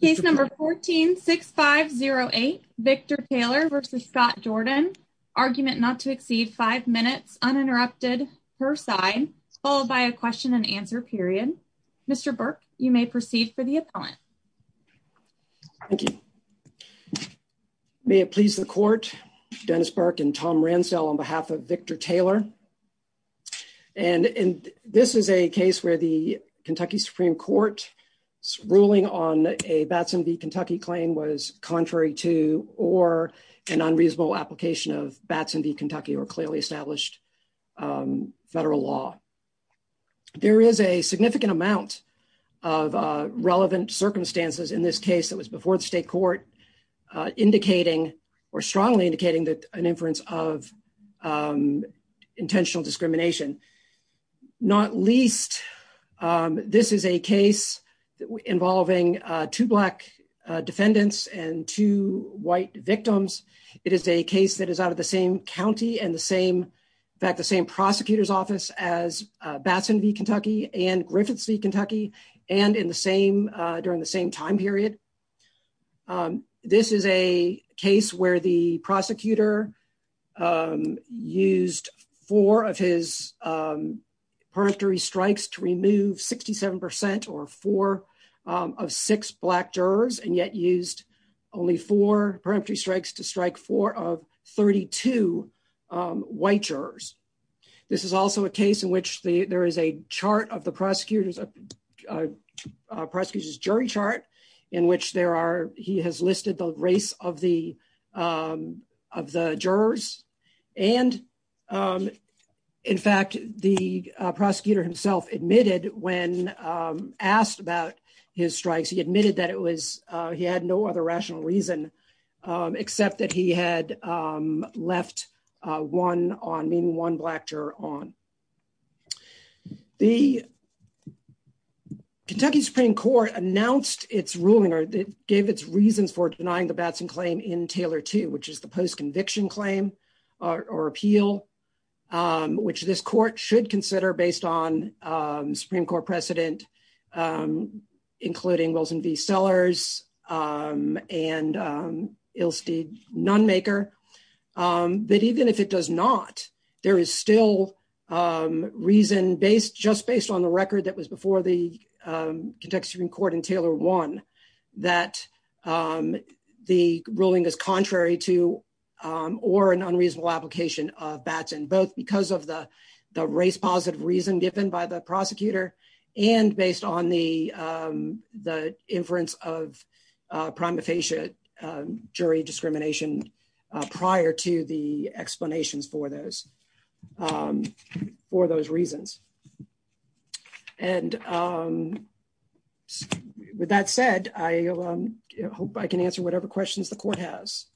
Case No. 14-6508, Victor Taylor v. Scott Jordan. Argument not to exceed 5 minutes uninterrupted, per side, followed by a question and answer period. Mr. Burke, you may proceed for the appellant. Thank you. May it please the Court, Mr. Dennis Burke and Tom Rancel on behalf of Victor Taylor. And this is a case where the Kentucky Supreme Court's ruling on a Batson v. Kentucky claim was contrary to or an unreasonable application of Batson v. Kentucky or clearly established federal law. There is a significant amount of relevant circumstances in this case that was before the state court indicating or strongly indicating that an inference of intentional discrimination. Not least, this is a case involving two black defendants and two white victims. It is a case that is out of the same county and the same, in fact, the same prosecutor's office as Batson v. Kentucky and Griffith v. Kentucky and in the same, during the same time period. This is a case where the prosecutor used four of his peremptory strikes to remove 67% or four of six black jurors and yet used only four peremptory strikes to strike four of 32 white jurors. This is also a case in which there is a chart of the prosecutor's jury chart in which he has listed the race of the jurors. And in fact, the prosecutor himself admitted when asked about his strikes, he admitted that it was, he had no other rational reason except that he had left one on, meaning one black juror on. The Kentucky Supreme Court announced its ruling or gave its reason for denying the Batson claim in Taylor 2, which is the post-conviction claim or appeal, which this court should consider based on Supreme Court precedent, including Wilson v. Sellers and Ilse Nunmaker. But even if it does not, there is still reason based, just based on the record that was before the Kentucky Supreme Court in Taylor 1, that the ruling is contrary to or an unreasonable application of Batson, both because of the race positive reason given by the prosecutor and based on the inference of prometheus jury discrimination prior to the explanations for those, for those reasons. And with that said, I hope I can answer whatever questions the court has.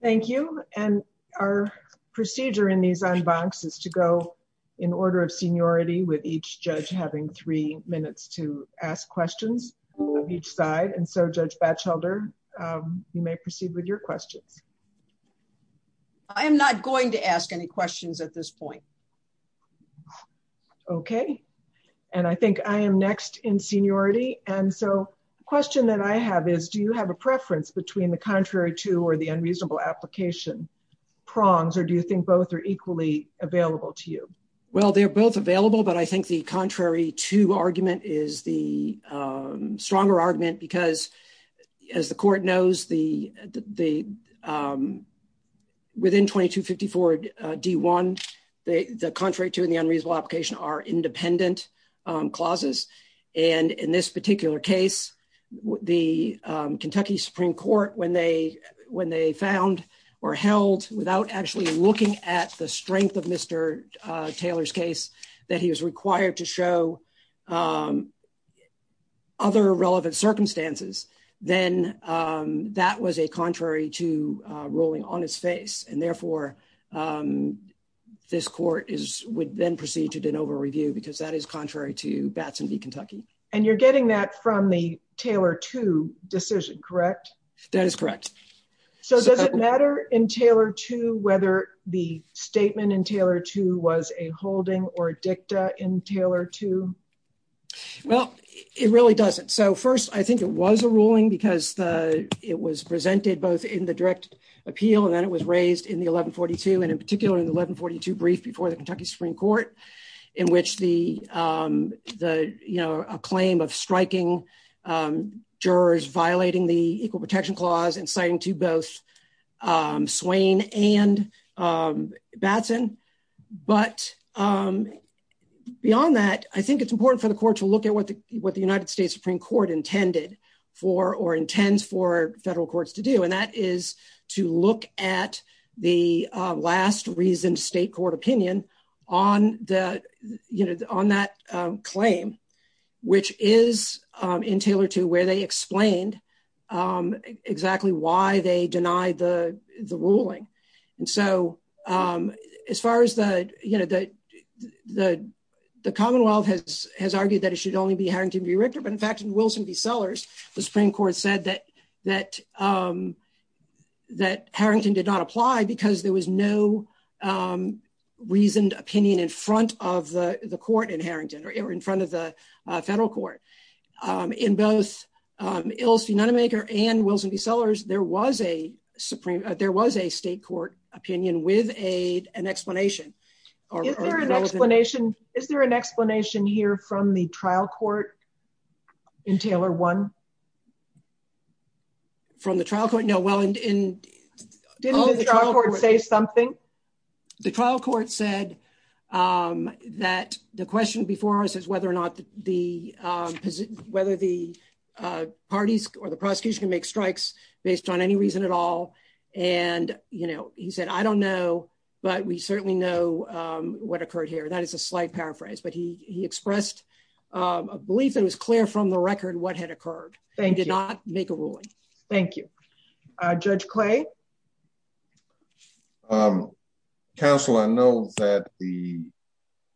Thank you. And our procedure in these en bancs is to go in order of seniority with each judge having three minutes to ask questions of each side. And so, Judge Batchelder, you may proceed with your question. I am not going to ask any questions at this point. Okay. And I think I am next in seniority. And so, question that I have is, do you have a preference between the contrary to or the unreasonable application prongs, or do you think both are equally available to you? Well, they're both available, but I think the contrary to argument is the stronger argument because, as the court knows, within 2254 D1, the contrary to the unreasonable application are independent clauses. And in this particular case, the Kentucky Supreme Court, when they found or held without actually looking at the strength of Mr. Taylor's case that he was required to show other relevant circumstances, then that was a contrary to ruling on its face. And therefore, this court would then proceed to de novo review because that is contrary to Batson v. Kentucky. And you're getting that from the Taylor II decision, correct? That is correct. So does it matter in Taylor II whether the statement in Taylor II was a holding or dicta in Taylor II? Well, it really doesn't. So first, I think it was a ruling because it was presented both in the direct appeal and then it was raised in the 1142, and in particular in the 1142 brief before the Kentucky Supreme Court, in which the, you know, a claim of striking jurors violating the Equal Protection Clause and citing to both Batson, but beyond that, I think it's important for the court to look at what the United States Supreme Court intended for or intends for federal courts to do, and that is to look at the last reason state court opinion on that claim, which is in Taylor II where they explained exactly why they deny the ruling. And so, as far as the, you know, the Commonwealth has argued that it should only be Harrington v. Richter, but in fact in Wilson v. Sellers, the Supreme Court said that Harrington did not apply because there was no reasoned opinion in front of the court in Harrington, or in front of the federal court. In both Ills Unanimator and Wilson v. Sellers, there was a Supreme, there was a state court opinion with an explanation. Is there an explanation here from the trial court in Taylor I? From the trial court? No, well in Didn't the trial court say something? The trial court said that the question before us is whether or not the, whether the parties or the prosecution make strikes based on any reason at all. And, you know, he said, I don't know, but we certainly know what occurred here. That is a slight paraphrase, but he expressed a belief that was clear from the record what had occurred. They did not make a ruling. Thank you. Judge Clay? Counsel, I know that the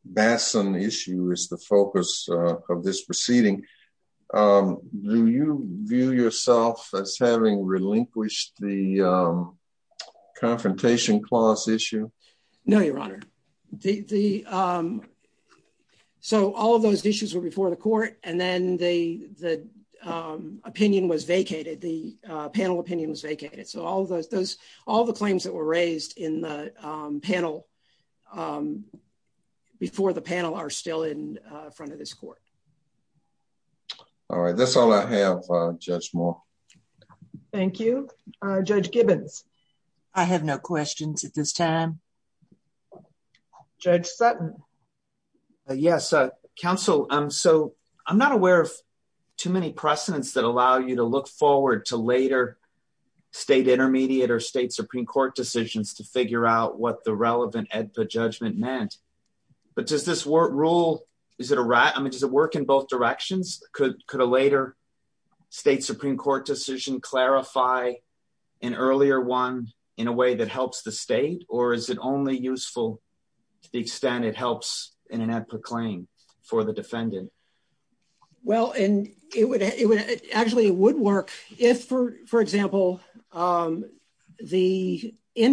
Batson issue is the focus of this proceeding. Do you view yourself as having relinquished the Confrontation Clause issue? No, Your Honor. So all those issues were before the court, and then the opinion was vacated, the panel opinion was vacated. So all the claims that were raised in the panel before the panel are still in front of this court. All right, that's all I have, Judge Moore. Thank you. Judge Gibbons? I have no questions at this time. Judge Sutton? Yes, Counsel, so I'm not aware of too many precedents that allow you to look forward to later state intermediate or state Supreme Court decisions to figure out what the relevant EDSA judgment meant. But does this rule, is it a right, I mean, does it work in both directions? Could a later state Supreme Court decision clarify an earlier one in a way that helps the state, or is it only useful to the extent it helps in an amper claim for the defendant? Well, and it would actually, it would work if, for example, in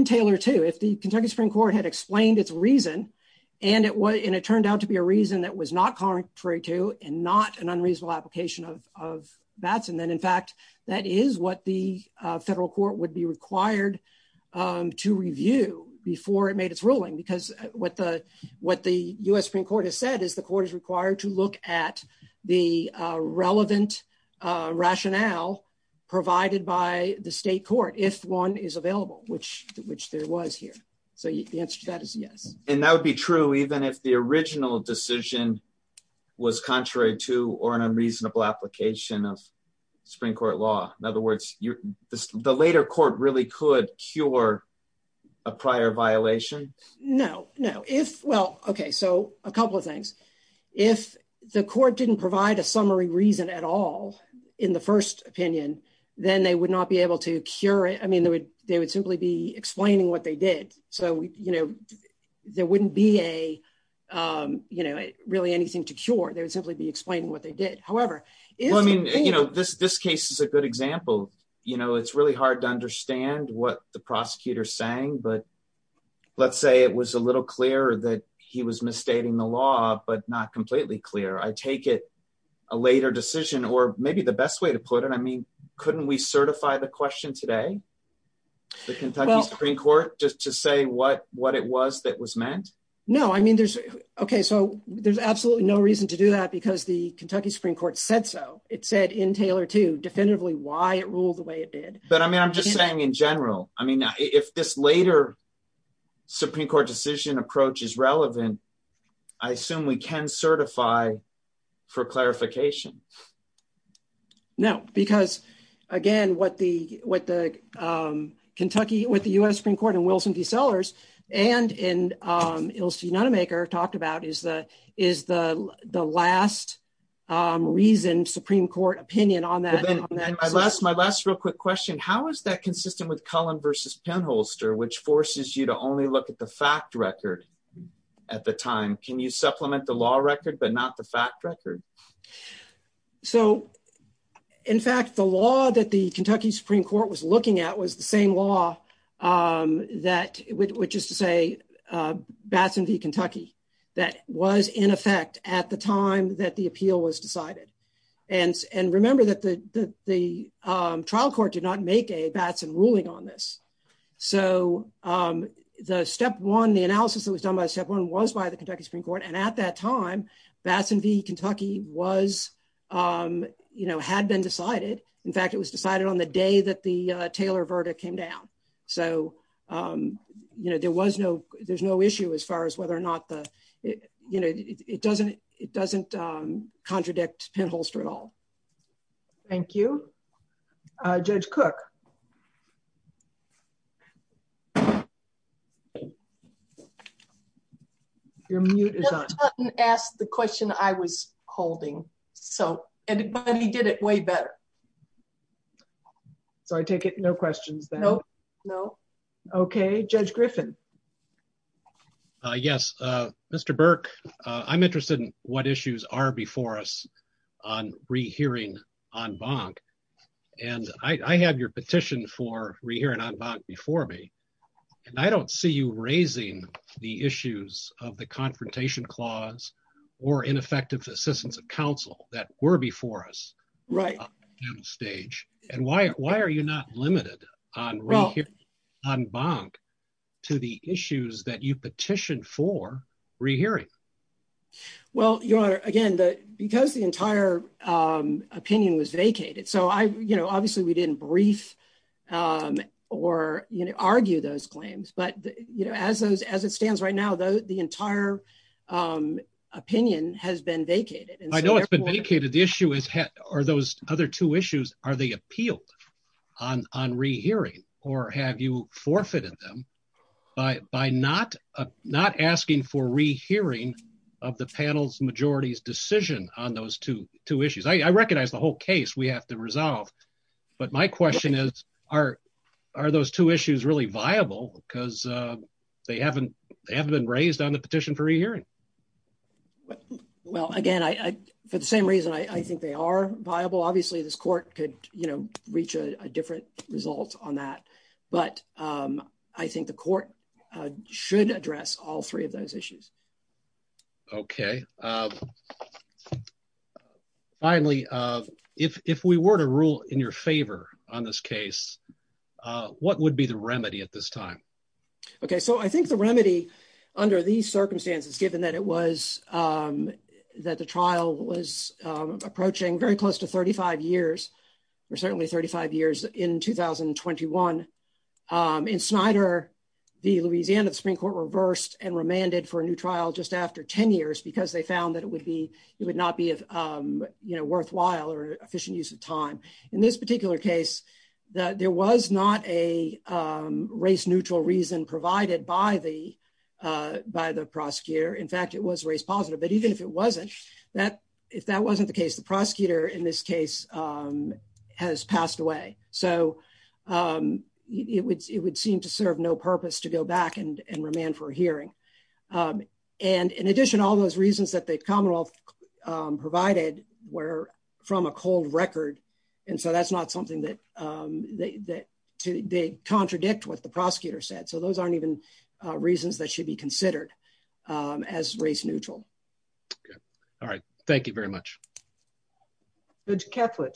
Taylor too, if the Kentucky Supreme Court had explained its reason, and it turned out to be a reason that was not contrary to and not an unreasonable application of that, and then, in fact, that is what the federal court would be required to review before it made its ruling, because what the U.S. Supreme Court has said is the court is required to look at the relevant rationale provided by the state court, if one is available, which there was here. So the answer to that is yes. And that would be true even if the original decision was contrary to or an unreasonable application of Supreme Court law. In other words, the later court really could cure a prior violation? No, no. If, well, okay, so a couple of things. If the court didn't provide a summary reason at all in the first opinion, then they would not be able to cure it. I mean, they would simply be explaining what they did. So, you know, there wouldn't be a, you know, really anything to cure. They would simply be explaining what they did. However, Well, I mean, you know, this case is a good example. You know, it's really hard to understand what the prosecutor is saying, but let's say it was a little clear that he was misstating the law, but not completely clear. I take it a later decision, or maybe the best way to put it, I mean, couldn't we certify the question today? The Kentucky Supreme Court just to say what it was that was meant? No, I mean, there's, okay, so there's absolutely no reason to do that because the Kentucky Supreme Court said so. It said in Taylor too definitively why it ruled the way it did. But I'm just saying in general, I mean, if this later Supreme Court decision approach is relevant, I assume we can certify for clarification. No, because, again, what the Kentucky with the US Supreme Court and Wilson v. Sellers and in Ilse Nunnemaker talked about is the last reason Supreme Court opinion on that. My last real quick question. How is that consistent with Cullen v. Penholster, which forces you to only look at the fact record at the time? Can you supplement the law record, but not the fact record? So, in fact, the law that the Kentucky Supreme Court was looking at was the same law that, which is to say Batson v. Kentucky, that was in effect at the time that the appeal was decided. And remember that the trial court did not make a Batson ruling on this. So the step one, the analysis that was done by step one was by the Kentucky Supreme Court. And at that time, Batson v. Kentucky was, you know, had been decided. In fact, it was decided on the day that the Taylor verdict came down. So, you know, there was no, there's no issue as far as whether or not the, you know, it doesn't, it doesn't contradict Penholster at all. Thank you. Judge Cook. Your mute is on. Asked the question I was holding. So, and he did it way better. So I take it. No questions. No, no. Okay, Judge Griffin. Yes, Mr Burke, I'm interested in what issues are before us on rehearing on bond. And I had your petition for rehearing on before me. And I don't see you raising the issues of the confrontation clause or ineffective assistance of counsel that were before us right stage. And why, why are you not limited on right here on bond to the issues that you petitioned for rehearing. Well, your again that because the entire opinion was vacated. So I, you know, obviously we didn't brief. Or, you know, argue those claims. But, you know, as those as it stands right now, though, the entire Opinion has been vacated. I know it's been vacated. The issue is, are those other two issues are they appeal on on rehearing or have you forfeited them. By not not asking for rehearing of the panels majorities decision on those two two issues. I recognize the whole case we have to resolve. But my question is, are, are those two issues really viable because they haven't haven't been raised on the petition for a year. Well, again, I for the same reason I think they are viable. Obviously, this court could, you know, reach a different result on that. But I think the court should address all three of those issues. Finally, if we were to rule in your favor on this case, what would be the remedy at this time. Okay, so I think the remedy under these circumstances, given that it was That the trial was approaching very close to 35 years or certainly 35 years in 2021 Insider the Louisiana Supreme Court reversed and remanded for a new trial just after 10 years because they found that it would be, it would not be You know, worthwhile or efficient use of time in this particular case that there was not a race neutral reason provided by the by the prosecutor. In fact, it was very positive. But even if it wasn't that if that wasn't the case, the prosecutor in this case. Has passed away so It would, it would seem to serve no purpose to go back and remand for hearing And in addition, all those reasons that they've commonwealth provided were from a cold record. And so that's not something that they that they contradict what the prosecutor said. So those aren't even reasons that should be considered as race neutral. All right. Thank you very much. Good Catholic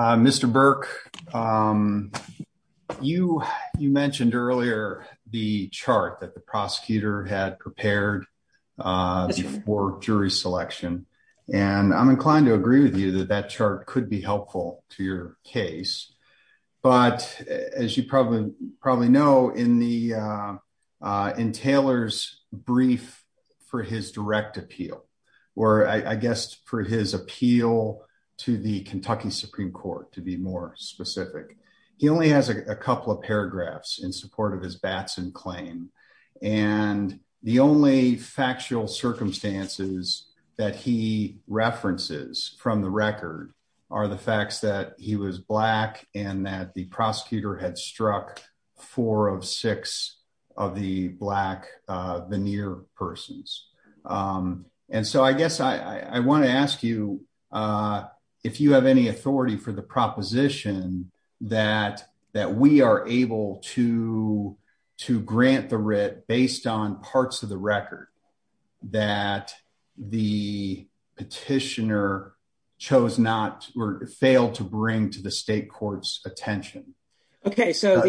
Mr Burke You, you mentioned earlier, the chart that the prosecutor had prepared For jury selection and I'm inclined to agree with you that that chart could be helpful to your case. But as you probably probably know in the In Taylor's brief for his direct appeal or I guess for his appeal to the Kentucky Supreme Court, to be more specific. He only has a couple of paragraphs in support of his Batson claim and the only factual circumstances that he references from the record are the facts that he was black and that the prosecutor had struck four of six of the black veneer persons. And so I guess I want to ask you If you have any authority for the proposition that that we are able to to grant the writ based on parts of the record that the petitioner chose not were failed to bring to the state courts attention. Okay, so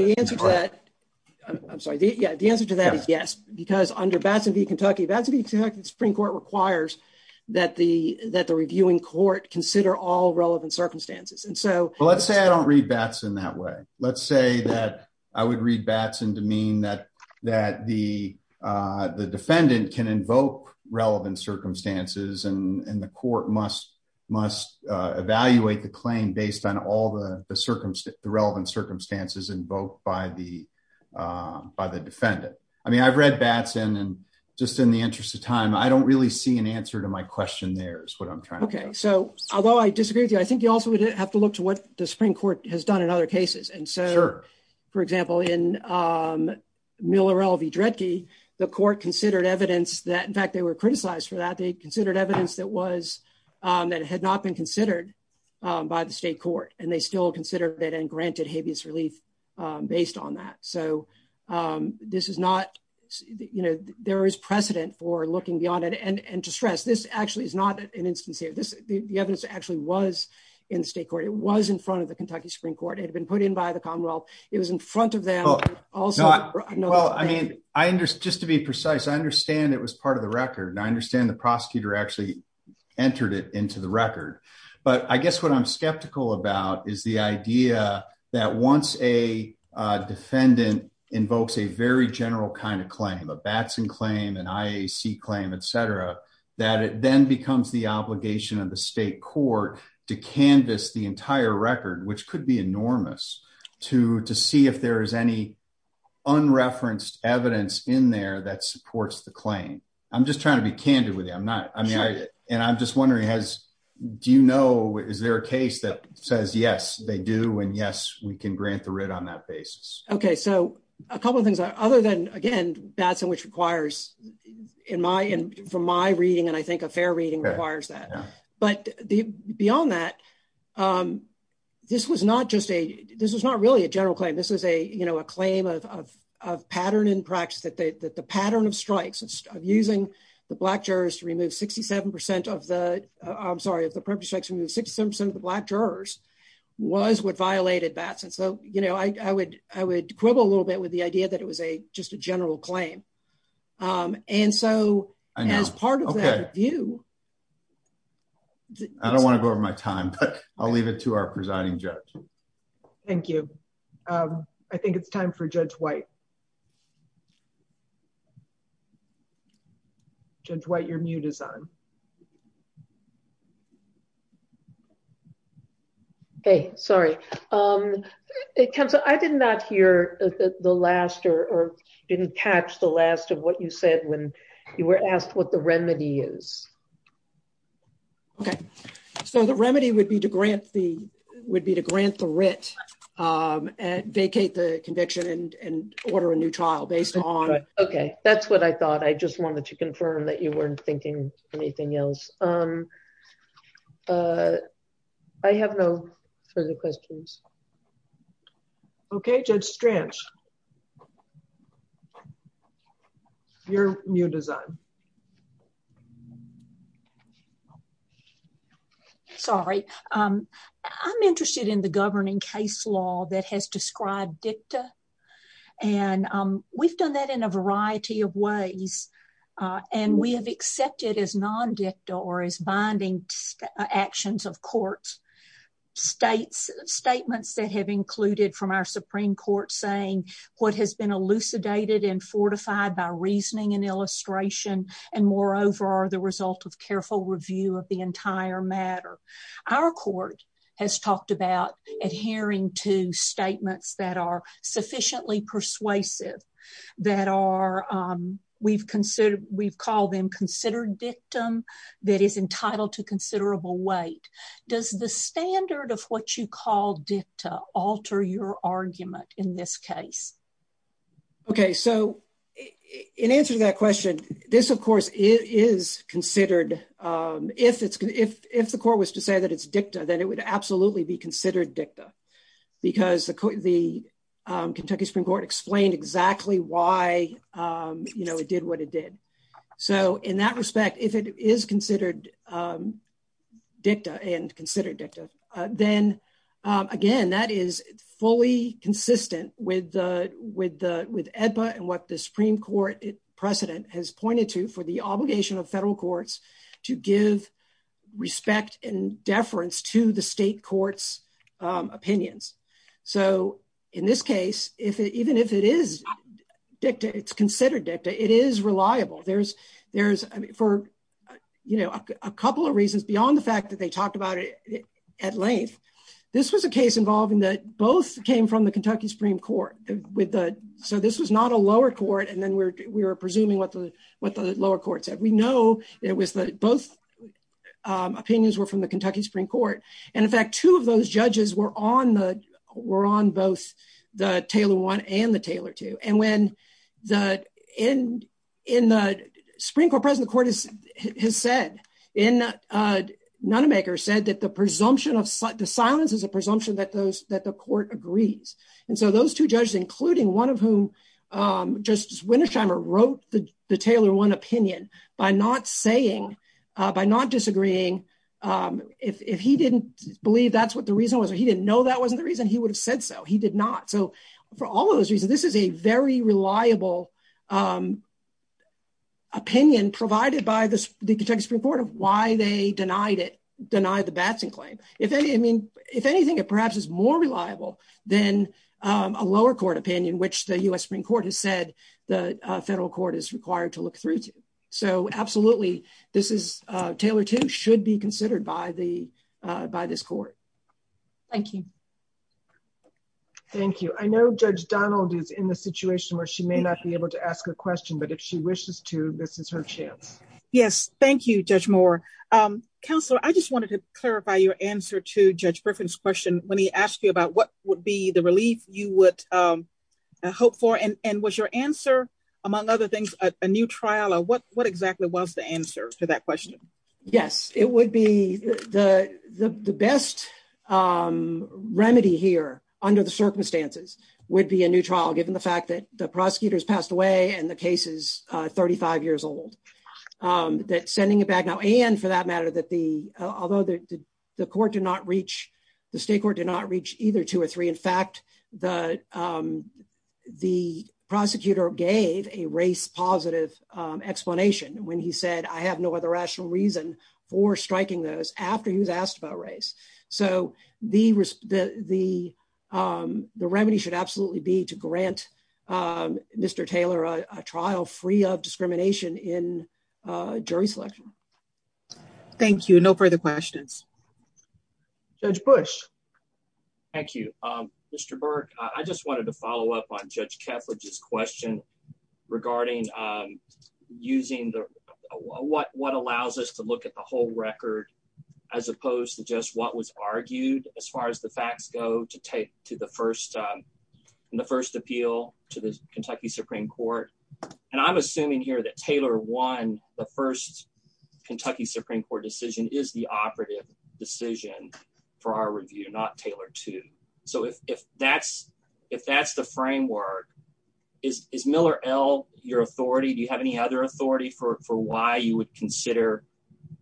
Consider all relevant circumstances. And so Let's say I don't read Batson that way. Let's say that I would read Batson to mean that that the The defendant can invoke relevant circumstances and the court must must evaluate the claim based on all the relevant circumstances invoked by the By the defendant. I mean, I've read Batson and just in the interest of time. I don't really see an answer to my question. There's what I'm trying to Okay, so although I disagree with you. I think you also would have to look to what the Supreme Court has done in other cases. And so, for example, in Miller LV directly the court considered evidence that in fact they were criticized for that they considered evidence that was that had not been considered By the state court and they still consider that and granted habeas relief based on that. So this is not, you know, there is precedent for looking beyond it and and to stress this actually is not an instance here. The evidence actually was in the state court. It was in front of the Kentucky Supreme Court. It's been put in by the Commonwealth. It was in front of them. I mean, I understand, just to be precise. I understand it was part of the record. I understand the prosecutor actually Entered it into the record. But I guess what I'm skeptical about is the idea that once a Defendant invokes a very general kind of claim of a Batson claim and IAC claim, etc. That it then becomes the obligation of the state court to canvas the entire record, which could be enormous to to see if there is any Unreferenced evidence in there that supports the claim. I'm just trying to be candid with you. I'm not. I mean, I, and I'm just wondering, has, do you know, is there a case that says yes, they do. And yes, we can grant the writ on that basis. Okay, so a couple of things. Other than, again, Batson, which requires in my, from my reading, and I think a fair reading requires that. But beyond that, This was not just a, this is not really a general claim. This is a, you know, a claim of pattern in practice that the pattern of strikes of using The black jurors to remove 67% of the, I'm sorry, if the purpose strikes to remove 67% of the black jurors was what violated Batson. So, you know, I would, I would quibble a little bit with the idea that it was a just a general claim. And so, as part of that review I don't want to go over my time, but I'll leave it to our presiding judge. Thank you. I think it's time for Judge White. Judge White, you're muted. Okay, sorry. I did not hear the last or didn't catch the last of what you said when you were asked what the remedy is. Okay, so the remedy would be to grant the, would be to grant the writ And vacate the conviction and order a new trial based on Okay, that's what I thought. I just wanted to confirm that you weren't thinking anything else. Um, I have no further questions. Okay, Judge Strantz. Your new design. Sorry. I'm interested in the governing case law that has described dicta and we've done that in a variety of ways. And we have accepted as non dicta or as binding actions of courts. States statements that have included from our Supreme Court saying what has been elucidated and fortified by reasoning and illustration and moreover, the result of careful review of the entire matter. Our court has talked about adhering to statements that are sufficiently persuasive that are We've considered, we call them considered dictum that is entitled to considerable weight. Does the standard of what you call dicta alter your argument in this case. Okay, so in answer to that question. This, of course, is considered if it's if the court was to say that it's dicta that it would absolutely be considered dicta. Because the Kentucky Supreme Court explained exactly why you know it did what it did. So in that respect, if it is considered Dicta and considered dicta then again that is fully consistent with the with the with EDPA and what the Supreme Court precedent has pointed to for the obligation of federal courts to give Respect and deference to the state courts opinions. So in this case, if it even if it is dicta, it's considered dicta, it is reliable. There's, there's for You know, a couple of reasons beyond the fact that they talked about it at length. This was a case involving that both came from the Kentucky Supreme Court with the so this is not a lower court and then we're, we're presuming what the what the lower courts that we know it was both Opinions were from the Kentucky Supreme Court. And in fact, two of those judges were on the were on both the Taylor one and the Taylor to and when the in in the Supreme Court precedent court has said in None maker said that the presumption of the silence is a presumption that those that the court agrees. And so those two judges, including one of whom Just Wintersheimer wrote the Taylor one opinion by not saying by not disagreeing if he didn't believe that's what the reason was he didn't know that wasn't the reason he would have said so. He did not. So for all those reasons, this is a very reliable. Opinion provided by this report of why they denied it denied the Batson claim if any. I mean, if anything, it perhaps is more reliable than A lower court opinion which the US Supreme Court has said the federal court is required to look through. So absolutely. This is Taylor to should be considered by the by this court. Thank you. Thank you. I know Judge Donald is in the situation where she may not be able to ask a question, but if she wishes to. This is her chance. Yes. Thank you. Judge more Counselor. I just wanted to clarify your answer to judge reference question. Let me ask you about what would be the relief, you would Hope for and and was your answer, among other things, a new trial or what what exactly was the answer to that question. Yes, it would be the best Remedy here under the circumstances would be a new trial, given the fact that the prosecutors passed away and the cases 35 years old. That sending it back now and for that matter that the although the court did not reach the state court did not reach either two or three. In fact, the The prosecutor gave a race positive explanation when he said, I have no other rational reason or striking those after he's asked about race. So the, the, the Remedy should absolutely be to grant Mr. Taylor a trial free of discrimination in jury selection. Thank you. No further questions. Since Bush. Thank you, Mr. Burke. I just wanted to follow up on Judge Kepler just question regarding Using the what what allows us to look at the whole record, as opposed to just what was argued as far as the facts go to take to the first The first appeal to this Kentucky Supreme Court, and I'm assuming here that Taylor one. The first Kentucky Supreme Court decision is the operative decision. For our review not Taylor to so if that's if that's the framework is Miller L your authority. Do you have any other authority for why you would consider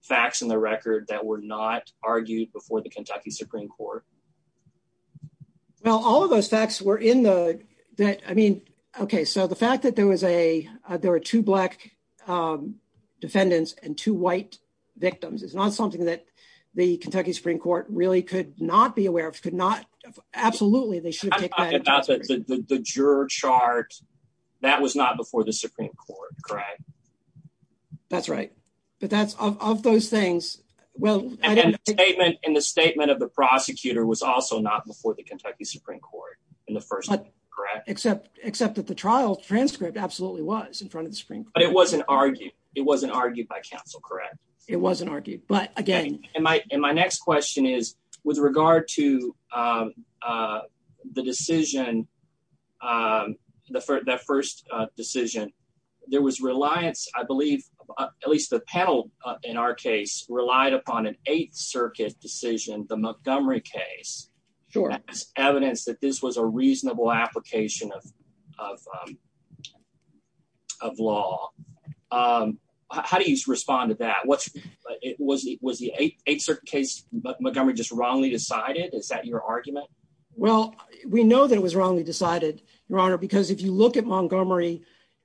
facts in the record that were not argued before the Kentucky Supreme Court. Now, all of those facts were in the that. I mean, okay, so the fact that there was a there are two black Defendants and to white victims. It's not something that the Kentucky Supreme Court really could not be aware of could not absolutely they should The juror chart that was not before the Supreme Court. Correct. That's right. But that's all those things. Well, In the statement of the prosecutor was also not before the Kentucky Supreme Court in the first Except, except that the trial transcript absolutely was in front of the screen. It wasn't argued. It wasn't argued by counsel. Correct. It wasn't argued. But again, My, my next question is with regard to The decision. The first decision there was reliance, I believe, at least the panel in our case relied upon an Eighth Circuit decision, the Montgomery case. Evidence that this was a reasonable application of Of law. How do you respond to that what it was. It was the Eighth Circuit case Montgomery just wrongly decided. Is that your argument. Well, we know that it was wrongly decided, Your Honor, because if you look at Montgomery,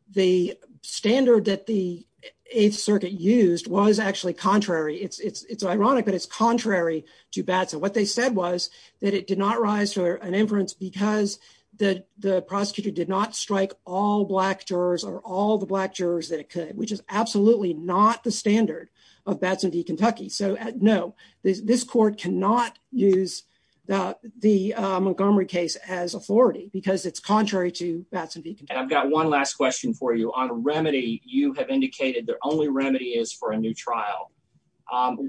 the standard that the Eighth Circuit used was actually contrary. It's, it's, it's ironic, but it's contrary to that. So what they said was that it did not rise for an inference because The, the prosecutor did not strike all black jurors or all the black jurors that could, which is absolutely not the standard of that to the Kentucky. So no, this court cannot use that the Montgomery case as authority because it's contrary to that. I've got one last question for you on remedy, you have indicated the only remedy is for a new trial.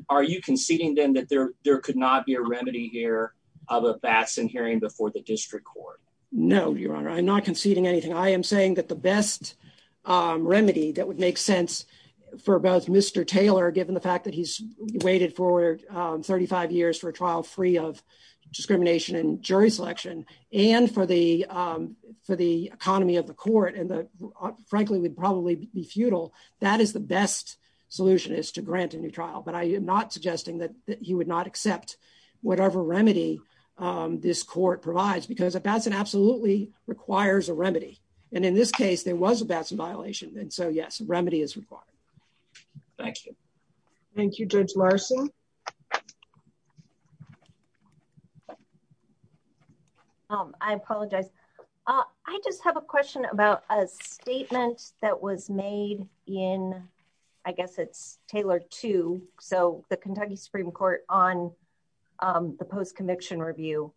Are you conceding them that there, there could not be a remedy here of a fast and hearing before the district court. No, Your Honor. I'm not conceding anything I am saying that the best remedy that would make sense for both Mr. Taylor, given the fact that he's waited for 35 years for trial free of Discrimination and jury selection and for the for the economy of the court and the frankly would probably be futile. That is the best solution is to grant a new trial, but I am not suggesting that you would not accept whatever remedy. This court provides because it doesn't absolutely requires a remedy. And in this case, there was a violation. And so, yes, remedy is required. Thank you. Thank you, Judge Larson. I apologize. I just have a question about a statement that was made in I guess it's Taylor to so the Kentucky Supreme Court on The post conviction review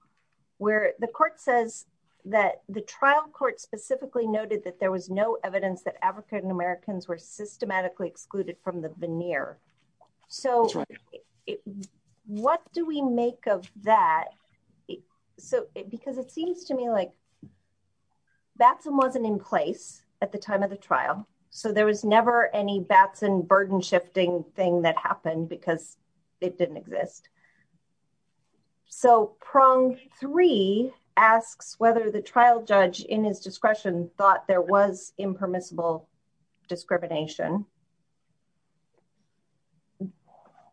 where the court says that the trial court specifically noted that there was no evidence that African Americans were systematically excluded from the veneer. So what do we make of that. So, because it seems to me like That wasn't in place at the time of the trial. So there was never any Batson burden shifting thing that happened because it didn't exist. So prong three asks whether the trial judge in his discretion thought there was impermissible discrimination.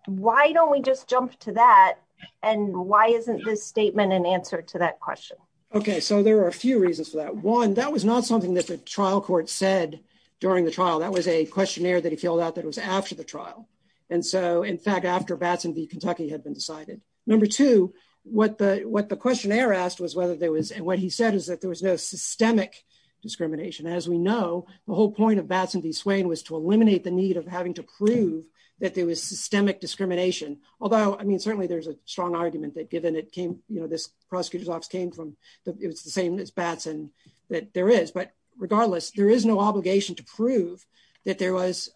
Why don't we just jump to that. And why isn't this statement and answer to that question. Okay, so there are a few reasons that one that was not something that the trial court said during the trial. That was a questionnaire that he filled out that was after the trial. And so, in fact, after Batson the Kentucky had been decided. Number two, what the what the questionnaire asked was whether there was what he said is that there was no systemic Discrimination, as we know, the whole point of Batson the swing was to eliminate the need of having to prove that there was systemic discrimination, although I mean certainly there's a strong argument that given it came, you know, this prosecutors office came from It's the same as Batson that there is. But regardless, there is no obligation to prove that there was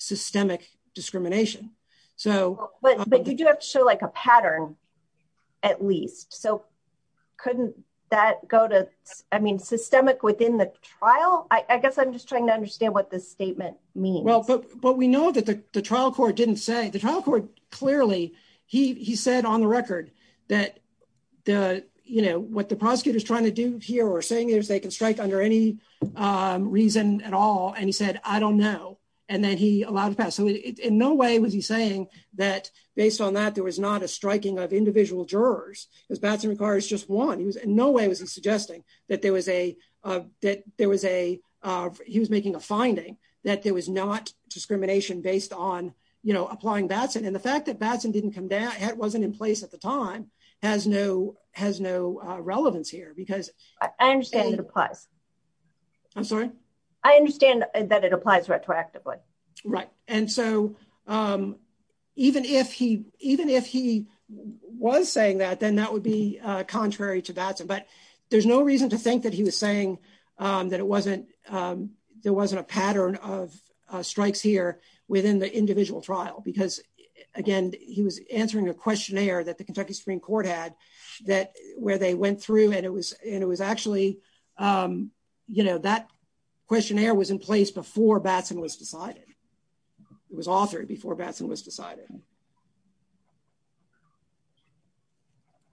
Systemic discrimination. So, but Sure, like a pattern at least so couldn't that go to, I mean, systemic within the trial. I guess I'm just trying to understand what this statement. Well, but, but we know that the trial court didn't say the trial court clearly he said on the record that the, you know, what the prosecutor is trying to do here or saying is they can strike under any Reason at all. And he said, I don't know. And then he allowed to pass. So in no way was he saying that based on that there was not a striking of individual jurors. Because Batson requires just one. In no way was he suggesting that there was a, that there was a He was making a finding that there was not discrimination based on, you know, applying Batson and the fact that Batson didn't come down, wasn't in place at the time has no has no relevance here because I understand that applies I'm sorry. I understand that it applies retroactively Right. And so Even if he even if he was saying that, then that would be contrary to Batson, but there's no reason to think that he was saying that it wasn't There wasn't a pattern of strikes here within the individual trial because, again, he was answering a questionnaire that the Kentucky Supreme Court had that where they went through and it was, it was actually You know that questionnaire was in place before Batson was decided was authoring before Batson was decided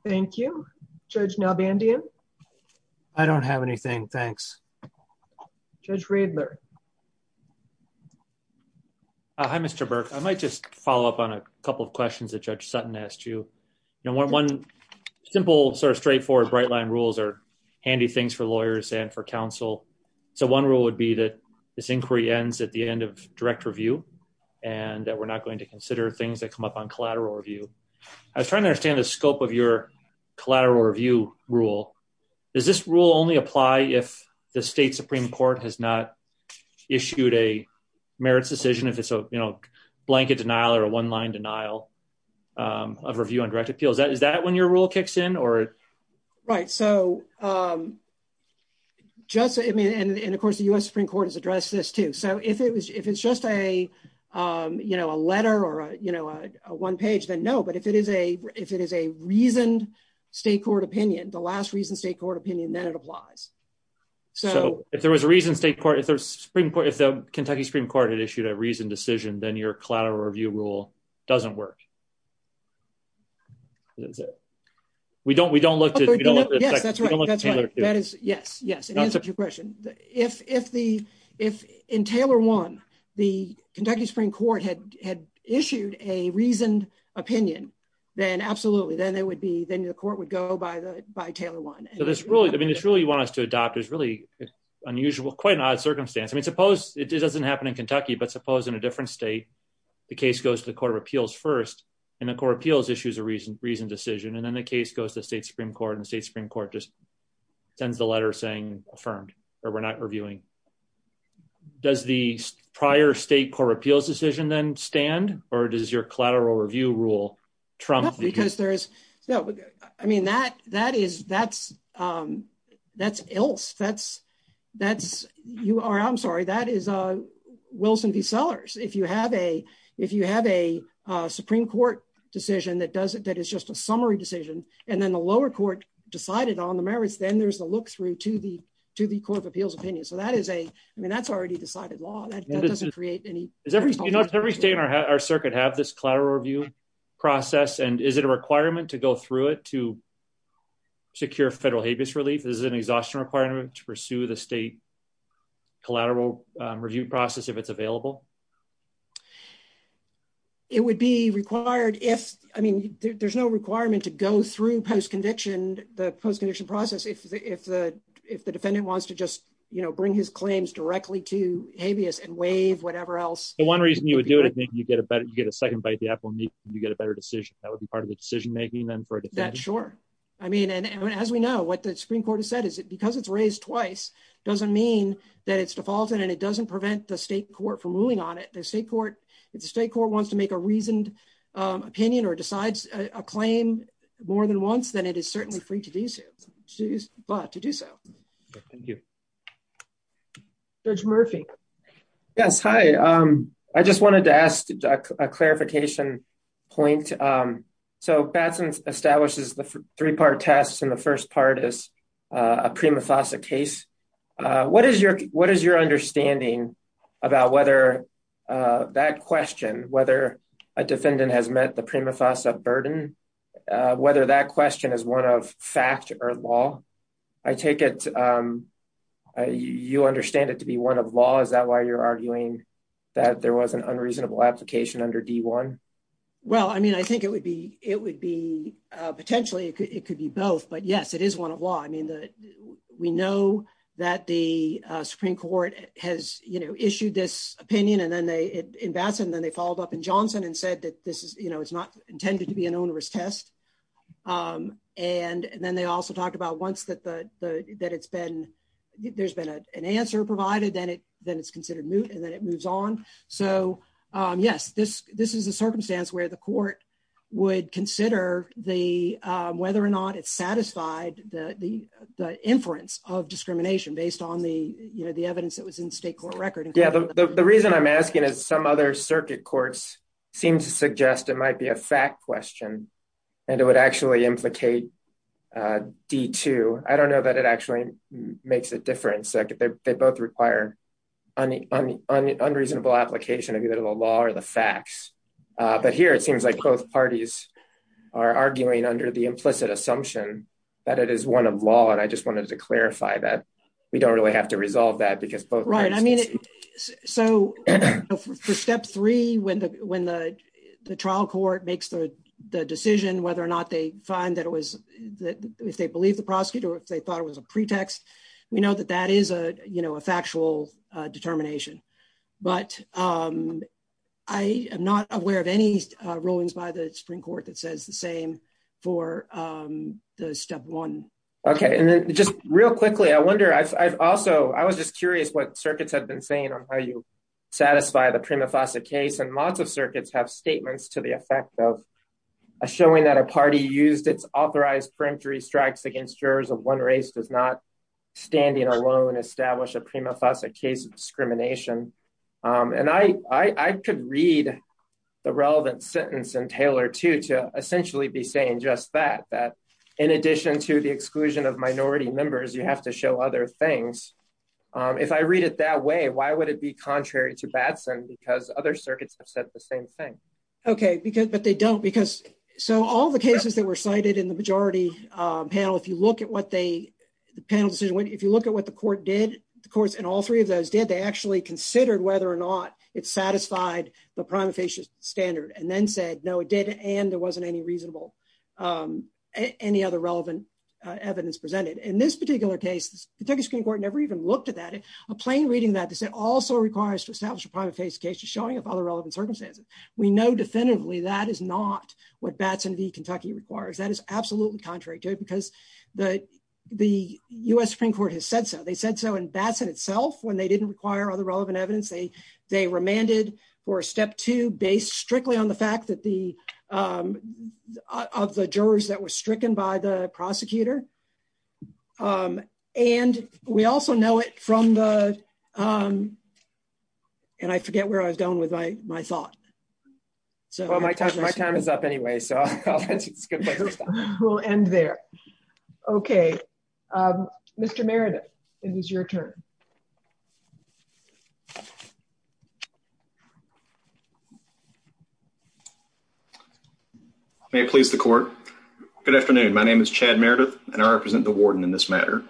Thank you, Judge Malbandia I don't have anything. Thanks. Judge Riedler Hi, Mr. Burke. I might just follow up on a couple of questions that Judge Sutton asked you. One simple sort of straightforward bright line rules are handy things for lawyers and for counsel. So one rule would be that this inquiry ends at the end of direct review. And that we're not going to consider things that come up on collateral review. I was trying to understand the scope of your collateral review rule. Does this rule only apply if the state Supreme Court has not issued a merits decision if it's a, you know, blanket denial or a one line denial of review on direct appeal. Is that when your rule kicks in or Right, so I mean, and of course the US Supreme Court has addressed this too. So if it was, if it's just a, you know, a letter or, you know, a one page, then no. But if it is a if it is a reasoned state court opinion, the last reason state court opinion, then it applies. So, if there was a reason state court, if there's Supreme Court, if the Kentucky Supreme Court had issued a reasoned decision, then your collateral review rule doesn't work. We don't, we don't look Yes, that's right. Yes, yes. If, if the, if in Taylor one, the Kentucky Supreme Court had had issued a reasoned opinion, then absolutely. Then it would be, then your court would go by the by Taylor one. So this rule, this rule you want us to adopt is really unusual, quite an odd circumstance. I mean, suppose it doesn't happen in Kentucky, but suppose in a different state, the case goes to the Court of Appeals first and the Court of Appeals issues a reasoned decision and then the case goes to state Supreme Court and state Supreme Court just sends the letter saying affirmed or we're not reviewing. Does the prior state Court of Appeals decision then stand or does your collateral review rule trump the I mean, that, that is, that's, that's else, that's, that's, you are, I'm sorry, that is Wilson v. Sellers. If you have a, if you have a Supreme Court decision that does it, that is just a summary decision and then the lower court decided on the merits, then there's a look through to the, to the Court of Appeals opinion. So that is a, I mean, that's already decided law. Does every state in our circuit have this collateral review process and is it a requirement to go through it to secure federal habeas relief? Is it an exhaustion requirement to pursue the state collateral review process if it's available? It would be required if, I mean, there's no requirement to go through post-conviction, the post-conviction process, if the, if the, if the defendant wants to just, you know, bring his claims directly to habeas and waive whatever else. One reason you would do it, I think, you get a better, you get a second bite the apple and you get a better decision. That would be part of the decision making then for a defendant. That's sure. I mean, and as we know, what the Supreme Court has said is that because it's raised twice doesn't mean that it's defaulted and it doesn't prevent the state court from ruling on it. The state court, if the state court wants to make a reasoned opinion or decides a claim more than once, then it is certainly free to do so. But to do so. Thank you. Judge Murphy. Yes. Hi. I just wanted to ask a clarification point. So, Batson establishes the three-part test and the first part is a prima facie case. What is your, what is your understanding about whether that question, whether a defendant has met the prima facie burden, whether that question is one of fact or law? I take it, you understand it to be one of law. Is that why you're arguing that there was an unreasonable application under D1? Well, I mean, I think it would be, it would be potentially, it could be both, but yes, it is one of law. I mean, we know that the Supreme Court has issued this opinion and then they, in Batson, then they followed up in Johnson and said that this is, you know, it's not intended to be an onerous test. And then they also talked about once that the, that it's been, there's been an answer provided, then it, then it's considered moot and then it moves on. So, yes, this, this is a circumstance where the court would consider the, whether or not it satisfied the inference of discrimination based on the, you know, the evidence that was in the state court record. Yeah, the reason I'm asking is some other circuit courts seem to suggest it might be a fact question and it would actually implicate D2. I don't know that it actually makes a difference. They both require unreasonable application of either the law or the facts. But here, it seems like both parties are arguing under the implicit assumption that it is one of law. And I just wanted to clarify that we don't really have to resolve that because both parties. Right. I mean, so for step three, when the, when the trial court makes the decision, whether or not they find that it was that if they believe the prosecutor, if they thought it was a pretext, we know that that is a, you know, a factual determination. But I am not aware of any rulings by the Supreme Court that says the same for the step one. Okay. And just real quickly, I wonder, I also, I was just curious what circuits have been saying on how you satisfy the prima facie case. And lots of circuits have statements to the effect of showing that a party used its authorized franctory strikes against jurors of one race does not standing alone establish a prima facie case of discrimination. And I could read the relevant sentence in Taylor, too, to essentially be saying just that, that in addition to the exclusion of minority members, you have to show other things. If I read it that way, why would it be contrary to Batson because other circuits have said the same thing? Okay, because, but they don't, because so all the cases that were cited in the majority panel, if you look at what they, the panel decision, if you look at what the court did, of course, and all three of those did, they actually considered whether or not it satisfied the prima facie standard and then said, no, it did, and there wasn't any reasonable, any other relevant evidence presented. In this particular case, the Kentucky Supreme Court never even looked at that. A plain reading that also requires to establish a prima facie case to showing up other relevant circumstances. We know definitively that is not what Batson v. Kentucky requires. That is absolutely contrary to it because the, the U.S. Supreme Court has said so. They said so in Batson itself when they didn't require other relevant evidence. They, they remanded for step two based strictly on the fact that the, of the jurors that were stricken by the prosecutor. And we also know it from the, and I forget where I was going with my, my thoughts. My time is up anyway, so we'll end there. Okay. Mr. Meredith, it is your turn. May it please the court. Good afternoon. My name is Chad Meredith, and I represent the warden in this matter.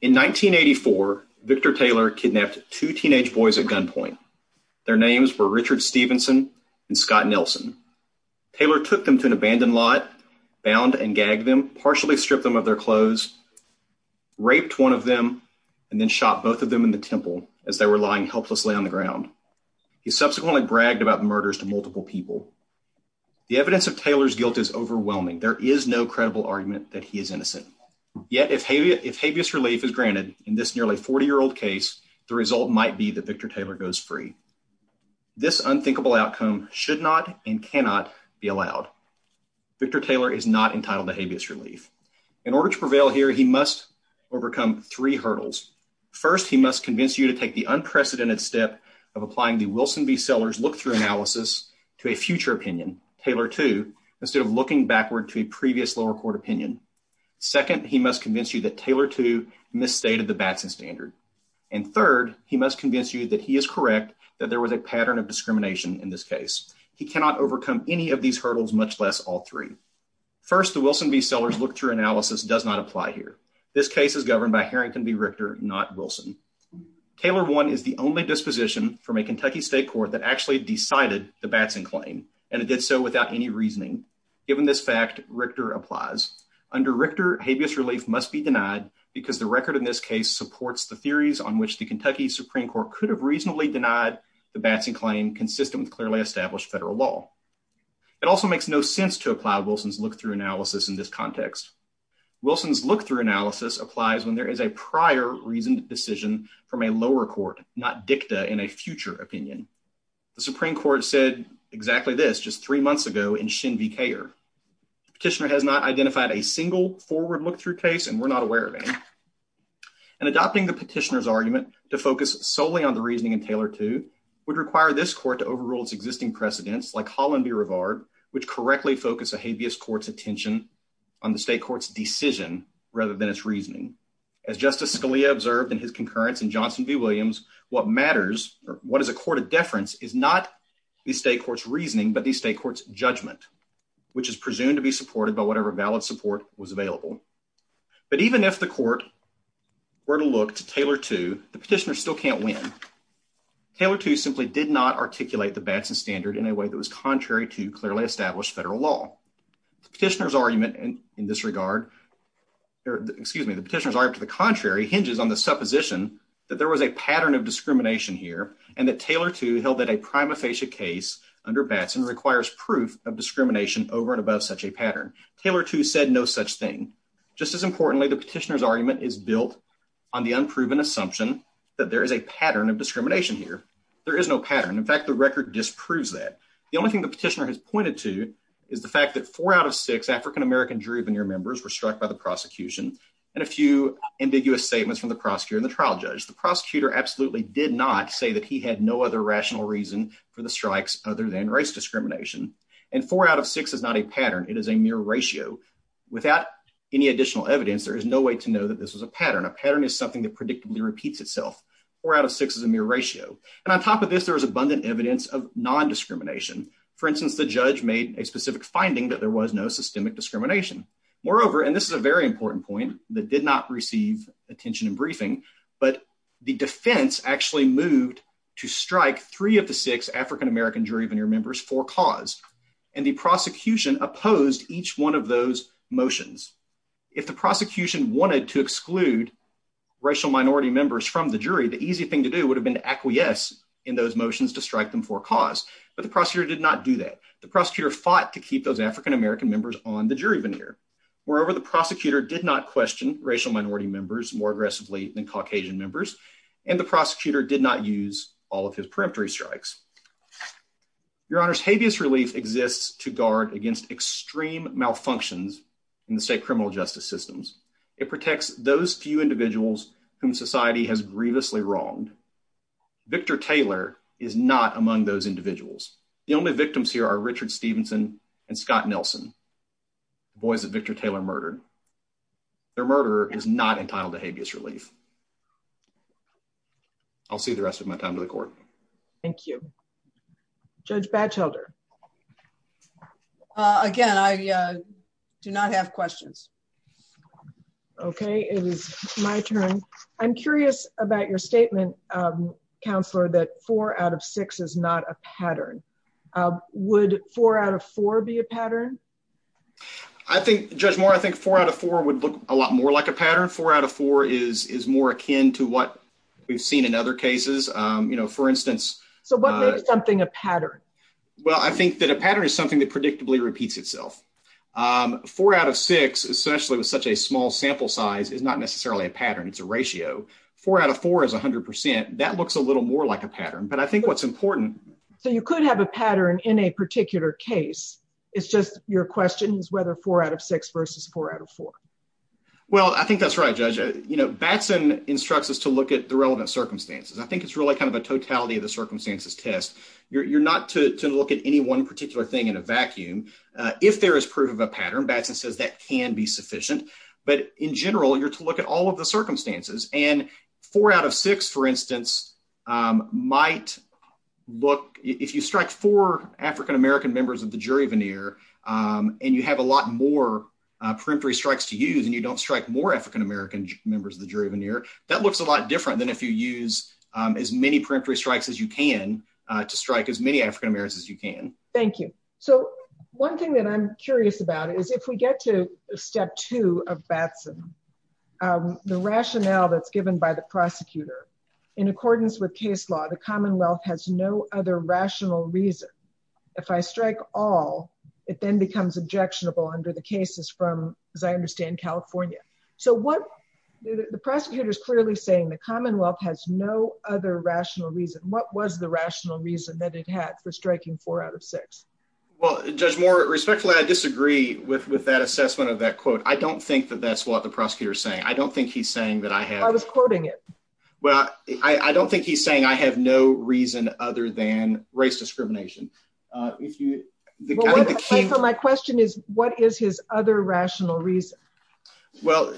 In 1984, Victor Taylor kidnapped two teenage boys at gunpoint. Their names were Richard Stevenson and Scott Nelson. Taylor took them to an abandoned lot, bound and gagged them, partially stripped them of their clothes, raped one of them, and then shot both of them in the temple as they were lying helplessly on the ground. He subsequently bragged about the murders to multiple people. The evidence of Taylor's guilt is overwhelming. There is no credible argument that he is innocent. Yet if habeas relief is granted in this nearly 40-year-old case, the result might be that Victor Taylor goes free. This unthinkable outcome should not and cannot be allowed. Victor Taylor is not entitled to habeas relief. In order to prevail here, he must overcome three hurdles. First, he must convince you to take the unprecedented step of applying the Wilson v. Sellers look-through analysis to a future opinion, Taylor 2, instead of looking backward to a previous lower court opinion. Second, he must convince you that Taylor 2 misstated the Batson standard. And third, he must convince you that he is correct that there was a pattern of discrimination in this case. He cannot overcome any of these hurdles, much less all three. First, the Wilson v. Sellers look-through analysis does not apply here. This case is governed by Harrington v. Richter, not Wilson. Taylor 1 is the only disposition from a Kentucky state court that actually decided the Batson claim, and it did so without any reasoning. Given this fact, Richter applies. Under Richter, habeas relief must be denied because the record in this case supports the theories on which the Kentucky Supreme Court could have reasonably denied the Batson claim consistent with clearly established federal law. It also makes no sense to apply Wilson's look-through analysis in this context. Wilson's look-through analysis applies when there is a prior reasoned decision from a lower court, not dicta in a future opinion. The Supreme Court said exactly this just three months ago in Shin v. Kayer. The petitioner has not identified a single forward look-through case, and we're not aware of any. And adopting the petitioner's argument to focus solely on the reasoning in Taylor 2 would require this court to overrule its existing precedents like Holland v. Rivard, which correctly focus a habeas court's attention on the state court's decision rather than its reasoning. As Justice Scalia observed in his concurrence in Johnson v. Williams, what matters or what is a court of deference is not the state court's reasoning but the state court's judgment, which is presumed to be supported by whatever valid support was available. But even if the court were to look to Taylor 2, the petitioner still can't win. Taylor 2 simply did not articulate the Batson standard in a way that was contrary to clearly established federal law. The petitioner's argument in this regard – excuse me, the petitioner's argument to the contrary hinges on the supposition that there was a pattern of discrimination here and that Taylor 2 held that a prima facie case under Batson requires proof of discrimination over and above such a pattern. Taylor 2 said no such thing. Just as importantly, the petitioner's argument is built on the unproven assumption that there is a pattern of discrimination here. There is no pattern. In fact, the record disproves that. The only thing the petitioner has pointed to is the fact that four out of six African-American jury veneer members were struck by the prosecution and a few ambiguous statements from the prosecutor and the trial judge. The prosecutor absolutely did not say that he had no other rational reason for the strikes other than race discrimination, and four out of six is not a pattern. It is a mere ratio. Without any additional evidence, there is no way to know that this is a pattern. A pattern is something that predictably repeats itself. Four out of six is a mere ratio. And on top of this, there was abundant evidence of non-discrimination. For instance, the judge made a specific finding that there was no systemic discrimination. Moreover, and this is a very important point that did not receive attention in briefing, but the defense actually moved to strike three of the six African-American jury veneer members for cause. And the prosecution opposed each one of those motions. If the prosecution wanted to exclude racial minority members from the jury, the easy thing to do would have been to acquiesce in those motions to strike them for cause. But the prosecutor did not do that. The prosecutor fought to keep those African-American members on the jury veneer. Moreover, the prosecutor did not question racial minority members more aggressively than Caucasian members, and the prosecutor did not use all of his peremptory strikes. Your Honor, habeas relief exists to guard against extreme malfunctions in the state criminal justice systems. It protects those few individuals whom society has grievously wronged. Victor Taylor is not among those individuals. The only victims here are Richard Stevenson and Scott Nelson, the boys that Victor Taylor murdered. Their murderer is not entitled to habeas relief. I'll see the rest of my time to the court. Thank you. Judge Batchelder. Again, I do not have questions. Okay, it is my turn. I'm curious about your statement, Counselor, that four out of six is not a pattern. Would four out of four be a pattern? I think, Judge Moore, I think four out of four would look a lot more like a pattern. Four out of four is more akin to what we've seen in other cases. So what makes something a pattern? Well, I think that a pattern is something that predictably repeats itself. Four out of six, essentially with such a small sample size, is not necessarily a pattern. It's a ratio. Four out of four is 100%. That looks a little more like a pattern. But I think what's important So you could have a pattern in a particular case. It's just your question is whether four out of six versus four out of four. Well, I think that's right, Judge. You know, Batson instructs us to look at the relevant circumstances. I think it's really kind of a totality of the circumstances test. You're not to look at any one particular thing in a vacuum. If there is proof of a pattern, Batson says that can be sufficient. But in general, you're to look at all of the circumstances. And four out of six, for instance, might look, if you strike four African-American members of the jury veneer, and you have a lot more peremptory strikes to use, and you don't strike more African-American members of the jury veneer, that looks a lot different than if you use as many peremptory strikes as you can to strike as many African-Americans as you can. Thank you. So one thing that I'm curious about is if we get to step two of Batson, the rationale that's given by the prosecutor, in accordance with case law, the Commonwealth has no other rational reason. If I strike all, it then becomes objectionable under the cases from, as I understand, California. The prosecutor is clearly saying the Commonwealth has no other rational reason. What was the rational reason that it had for striking four out of six? Well, Judge Moore, respectfully, I disagree with that assessment of that quote. I don't think that that's what the prosecutor is saying. I don't think he's saying that I have... I was quoting it. Well, I don't think he's saying I have no reason other than race discrimination. My question is, what is his other rational reason? Well,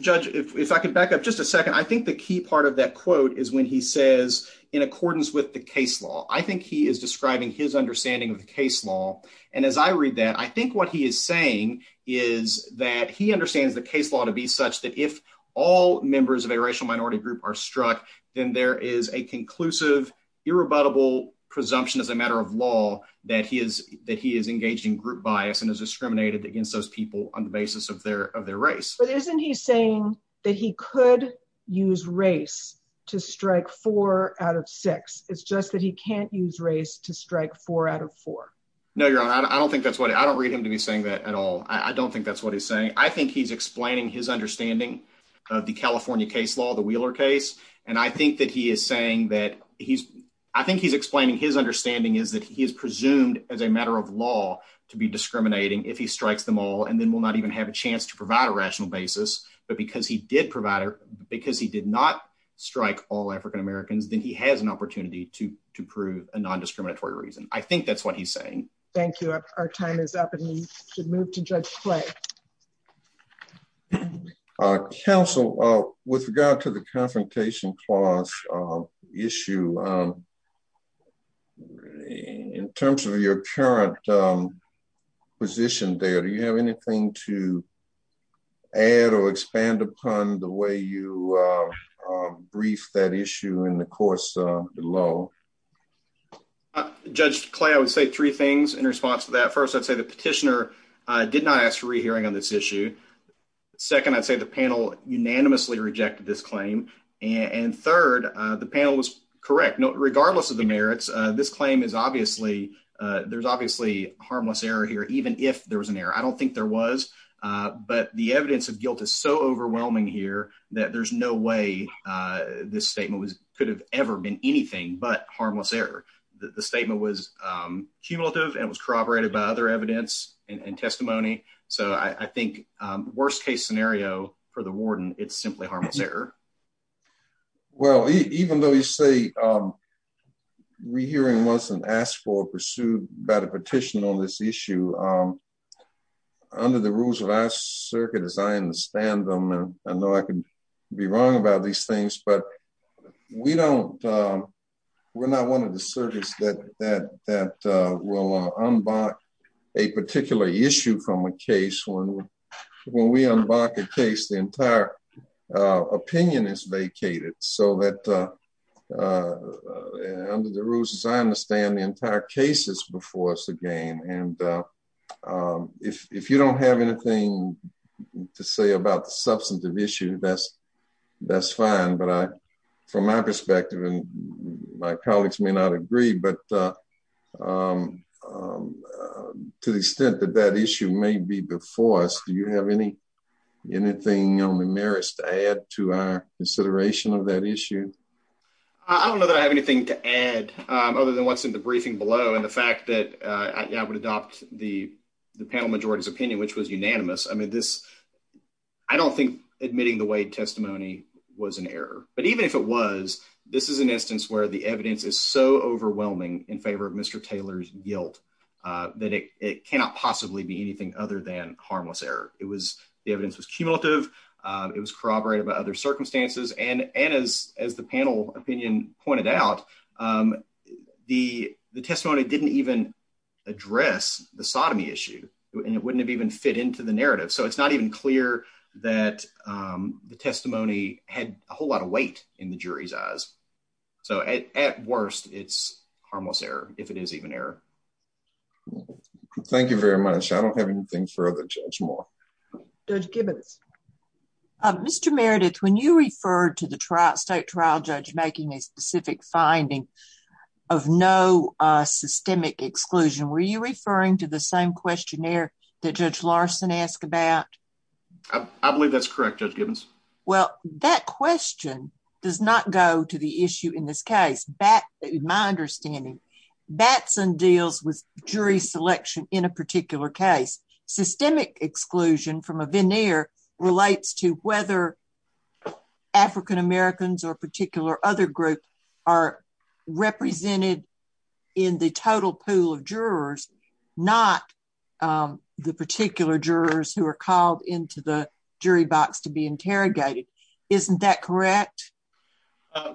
Judge, if I could back up just a second, I think the key part of that quote is when he says, in accordance with the case law, I think he is describing his understanding of the case law. And as I read that, I think what he is saying is that he understands the case law to be such that if all members of a racial minority group are struck, then there is a conclusive, irrebuttable presumption as a matter of law that he is engaging group bias and is discriminated against those people on the basis of their race. But isn't he saying that he could use race to strike four out of six? It's just that he can't use race to strike four out of four. No, Your Honor, I don't think that's what... I don't read him to be saying that at all. I don't think that's what he's saying. I think he's explaining his understanding of the California case law, the Wheeler case, and I think that he is saying that he's... I think he's explaining his understanding is that he is presumed as a matter of law to be discriminating if he strikes them all and then will not even have a chance to provide a rational basis. But because he did provide... Because he did not strike all African-Americans, then he has an opportunity to prove a non-discriminatory reason. Thank you. Our time is up and we should move to Judge Clay. Counsel, with regard to the confrontation clause issue, in terms of your current position there, do you have anything to add or expand upon the way you briefed that issue in the course below? Judge Clay, I would say three things in response to that. First, I'd say the petitioner did not ask for a re-hearing on this issue. Second, I'd say the panel unanimously rejected this claim. And third, the panel was correct. Regardless of the merits, this claim is obviously... There's obviously harmless error here, even if there was an error. I don't think there was, but the evidence of guilt is so overwhelming here that there's no way this statement could have ever meant anything. But harmless error. The statement was cumulative and was corroborated by other evidence and testimony. So I think worst-case scenario for the warden, it's simply harmless error. Well, even though you say re-hearing wasn't asked for or pursued by the petitioner on this issue, under the rules of our circuit, as I understand them, I know I can be wrong about these things, but we're not one of the surges that will unblock a particular issue from a case. When we unblock a case, the entire opinion is vacated. So under the rules, as I understand, the entire case is before us again. And if you don't have anything to say about the substantive issue, that's fine. But from my perspective, and my colleagues may not agree, but to the extent that that issue may be before us, do you have anything on the merits to add to our consideration of that issue? I don't know that I have anything to add other than what's in the briefing below and the fact that I would adopt the panel majority's opinion, which was unanimous. I mean, I don't think admitting the Wade testimony was an error. But even if it was, this is an instance where the evidence is so overwhelming in favor of Mr. Taylor's guilt that it cannot possibly be anything other than harmless error. The evidence was cumulative. It was corroborated by other circumstances. And as the panel opinion pointed out, the testimony didn't even address the sodomy issue, and it wouldn't have even fit into the narrative. So it's not even clear that the testimony had a whole lot of weight in the jury's eyes. So at worst, it's harmless error, if it is even error. Thank you very much. I don't have anything further to add. Judge Gibbons. Mr. Meredith, when you referred to the state trial judge making a specific finding of no systemic exclusion, were you referring to the same questionnaire that Judge Larson asked about? I believe that's correct, Judge Gibbons. Well, that question does not go to the issue in this case. That is my understanding. Batson deals with jury selection in a particular case. And the systemic exclusion from a veneer relates to whether African-Americans or particular other groups are represented in the total pool of jurors, not the particular jurors who are called into the jury box to be interrogated. Isn't that correct?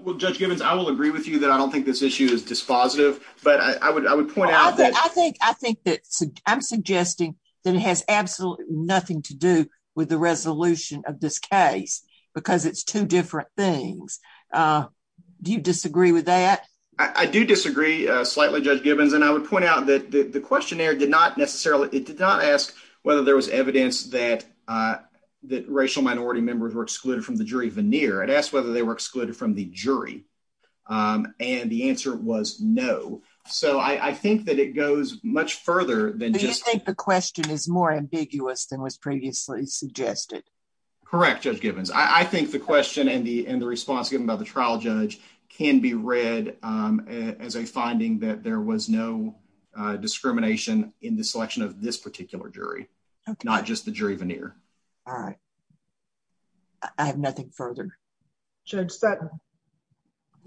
Well, Judge Gibbons, I will agree with you that I don't think this issue is dispositive. I think that I'm suggesting that it has absolutely nothing to do with the resolution of this case because it's two different things. Do you disagree with that? I do disagree slightly, Judge Gibbons, and I would point out that the questionnaire did not necessarily ask whether there was evidence that racial minority members were excluded from the jury veneer. It asked whether they were excluded from the jury. And the answer was no. So I think that it goes much further than just... Do you think the question is more ambiguous than was previously suggested? Correct, Judge Gibbons. I think the question and the response given by the trial judge can be read as a finding that there was no discrimination in the selection of this particular jury, not just the jury veneer. All right. I have nothing further. Judge Spadafore?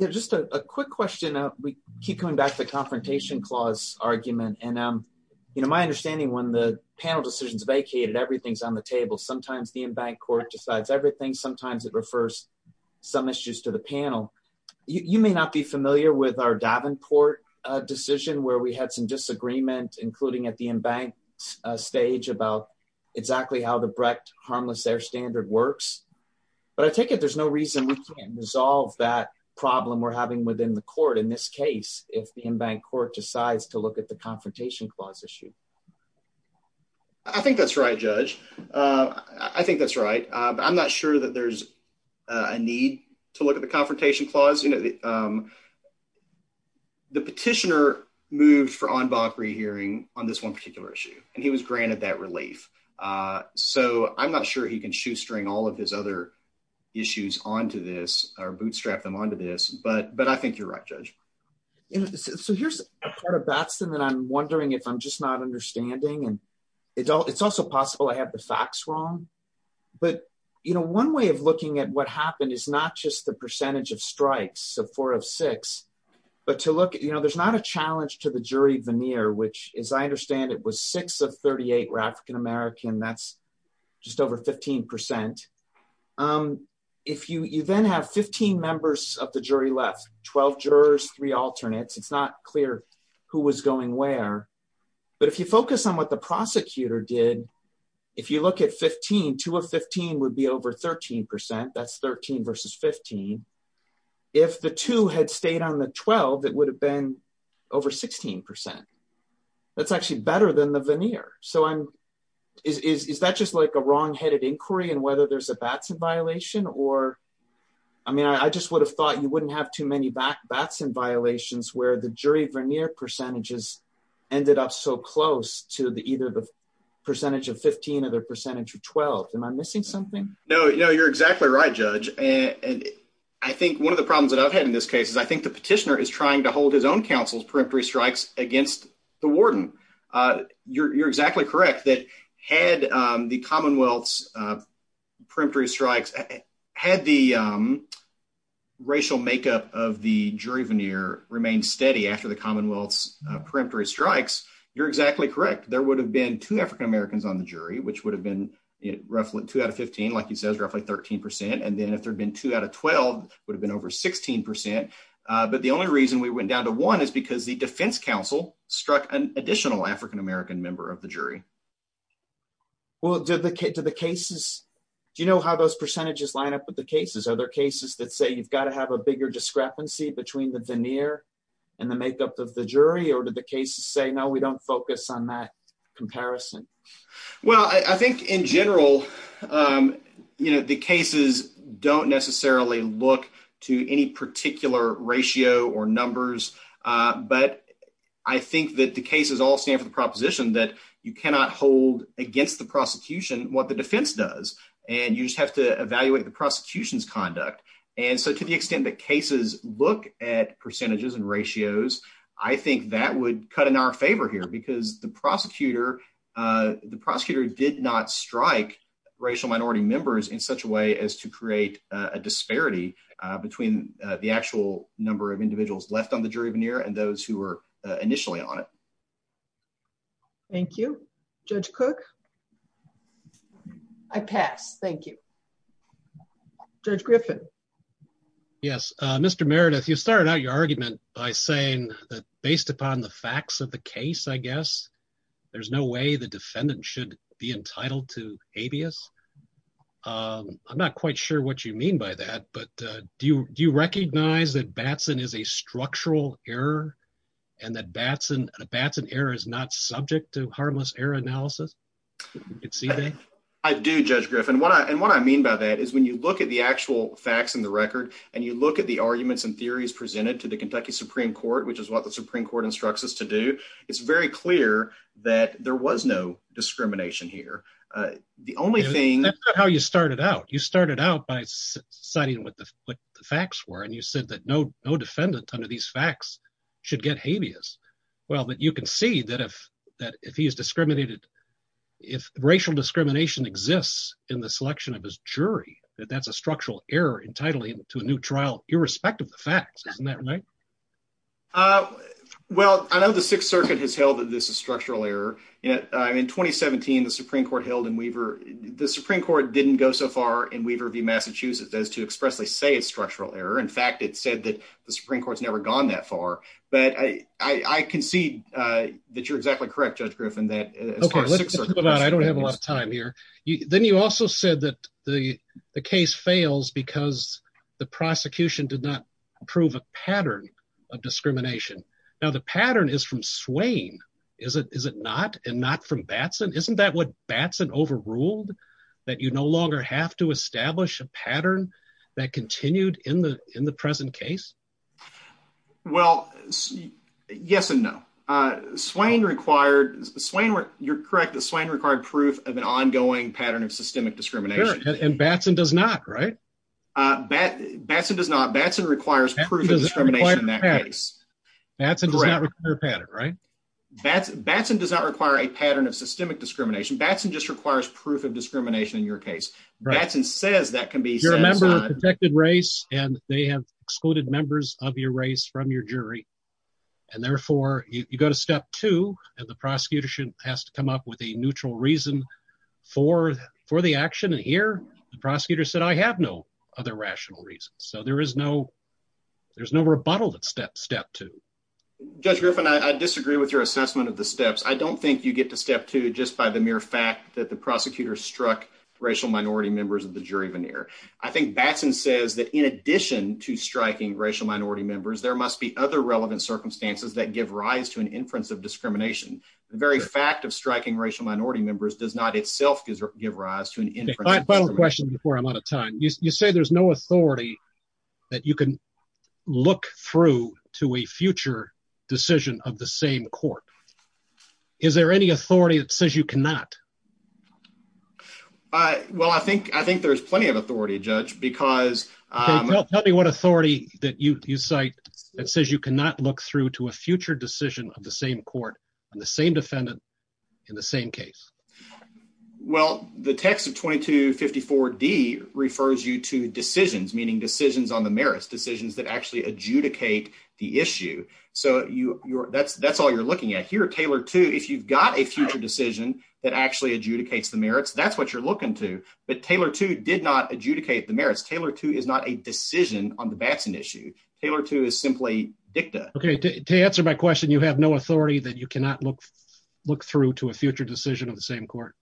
Just a quick question. We keep coming back to the confrontation clause argument. And, you know, my understanding, when the panel decision is vacated, everything's on the table. Sometimes the in-bank court decides everything. Sometimes it refers some issues to the panel. You may not be familiar with our Davenport decision where we had some disagreement, including at the in-bank stage, about exactly how the Brecht harmless air standard works. But I think that there's no reason we can't resolve that problem we're having within the court in this case if the in-bank court decides to look at the confrontation clause issue. I think that's right, Judge. I think that's right. I'm not sure that there's a need to look at the confrontation clause. The petitioner moved for en banc rehearing on this one particular issue, and he was granted that relief. So I'm not sure he can shoestring all of his other issues onto this or bootstrap them onto this. But I think you're right, Judge. So here's a part of Baxton that I'm wondering if I'm just not understanding. And it's also possible I have the facts wrong. But, you know, one way of looking at what happened is not just the percentage of strikes, the four of six, but to look at, you know, there's not a challenge to the jury veneer, which, as I understand it, was six of 38 were African American. That's just over 15%. If you then have 15 members of the jury left, 12 jurors, three alternates, it's not clear who was going where. But if you focus on what the prosecutor did, if you look at 15, two of 15 would be over 13%. That's 13 versus 15. If the two had stayed on the 12, it would have been over 16%. That's actually better than the veneer. So is that just like a wrongheaded inquiry in whether there's a Baxton violation? Or, I mean, I just would have thought you wouldn't have too many Baxton violations where the jury veneer percentages ended up so close to either the percentage of 15 or the percentage of 12. Am I missing something? No, you're exactly right, Judge. And I think one of the problems that I've had in this case is I think the petitioner is trying to hold his own counsel's periphery strikes against the warden. You're exactly correct that had the Commonwealth's periphery strikes, had the racial makeup of the jury veneer remained steady after the Commonwealth's periphery strikes, you're exactly correct. There would have been two African Americans on the jury, which would have been roughly two out of 15, like you said, roughly 13%. And then if there had been two out of 12, it would have been over 16%. But the only reason we went down to one is because the defense counsel struck an additional African American member of the jury. Well, do the cases, do you know how those percentages line up with the cases? Are there cases that say you've got to have a bigger discrepancy between the veneer and the makeup of the jury? Or do the cases say, no, we don't focus on that comparison? Well, I think in general, the cases don't necessarily look to any particular ratio or numbers. But I think that the cases all stand for the proposition that you cannot hold against the prosecution what the defense does. And you just have to evaluate the prosecution's conduct. And so to the extent that cases look at percentages and ratios, I think that would cut in our favor here. Because the prosecutor did not strike racial minority members in such a way as to create a disparity between the actual number of individuals left on the jury veneer and those who were initially on it. Thank you. Judge Cook? I pass. Thank you. Judge Griffin? Yes, Mr. Meredith, you started out your argument by saying that based upon the facts of the case, I guess, there's no way the defendant should be entitled to habeas. I'm not quite sure what you mean by that, but do you recognize that Batson is a structural error and that Batson error is not subject to harmless error analysis? I do, Judge Griffin. And what I mean by that is when you look at the actual facts in the record and you look at the arguments and theories presented to the Kentucky Supreme Court, which is what the Supreme Court instructs us to do, it's very clear that there was no discrimination here. That's not how you started out. You started out by citing what the facts were, and you said that no defendant under these facts should get habeas. Well, but you can see that if racial discrimination exists in the selection of his jury, that that's a structural error entitling him to a new trial, irrespective of the facts. Isn't that right? Well, I know the Sixth Circuit has held that this is structural error. In 2017, the Supreme Court held in Weaver – the Supreme Court didn't go so far in Weaver v. Massachusetts as to expressly say it's structural error. In fact, it said that the Supreme Court's never gone that far. But I concede that you're exactly correct, Judge Griffin, that – Now, the pattern is from Swain, is it not, and not from Batson? Isn't that what Batson overruled, that you no longer have to establish a pattern that continued in the present case? Well, yes and no. Swain required – you're correct that Swain required proof of an ongoing pattern of systemic discrimination. And Batson does not, right? Batson does not. Batson requires proof of discrimination in that case. Batson does not require a pattern, right? Batson does not require a pattern of systemic discrimination. Batson just requires proof of discrimination in your case. Batson says that can be – You're a member of a protected race, and they have excluded members of your race from your jury. And therefore, you go to step two, and the prosecutor has to come up with a neutral reason for the action. And here, the prosecutor said, I have no other rational reasons. So there is no – there's no rebuttal to step two. Judge Griffin, I disagree with your assessment of the steps. I don't think you get to step two just by the mere fact that the prosecutor struck racial minority members of the jury veneer. I think Batson says that in addition to striking racial minority members, there must be other relevant circumstances that give rise to an inference of discrimination. The very fact of striking racial minority members does not itself give rise to an inference of discrimination. Final question before I run out of time. You say there's no authority that you can look through to a future decision of the same court. Is there any authority that says you cannot? Well, I think there's plenty of authority, Judge, because – Tell me what authority that you cite that says you cannot look through to a future decision of the same court and the same defendant in the same case. Well, the text of 2254D refers you to decisions, meaning decisions on the merits, decisions that actually adjudicate the issue. So that's all you're looking at. Here, Taylor 2, if you've got a future decision that actually adjudicates the merits, that's what you're looking to. But Taylor 2 did not adjudicate the merits. Taylor 2 is not a decision on the Batson issue. Taylor 2 is simply dicta. Okay. To answer my question, you have no authority that you cannot look through to a future decision of the same court?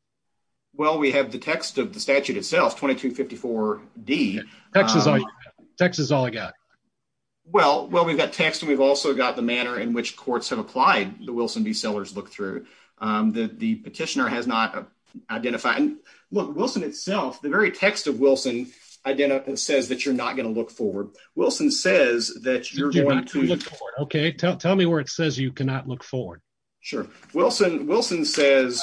Well, we have the text of the statute itself, 2254D. Text is all I got. Well, we've got text, and we've also got the manner in which courts have applied the Wilson v. Sellers look-through. The petitioner has not identified – look, Wilson itself, the very text of Wilson says that you're not going to look forward. Wilson says that you're going to – Okay. Tell me where it says you cannot look forward. Sure. Wilson says,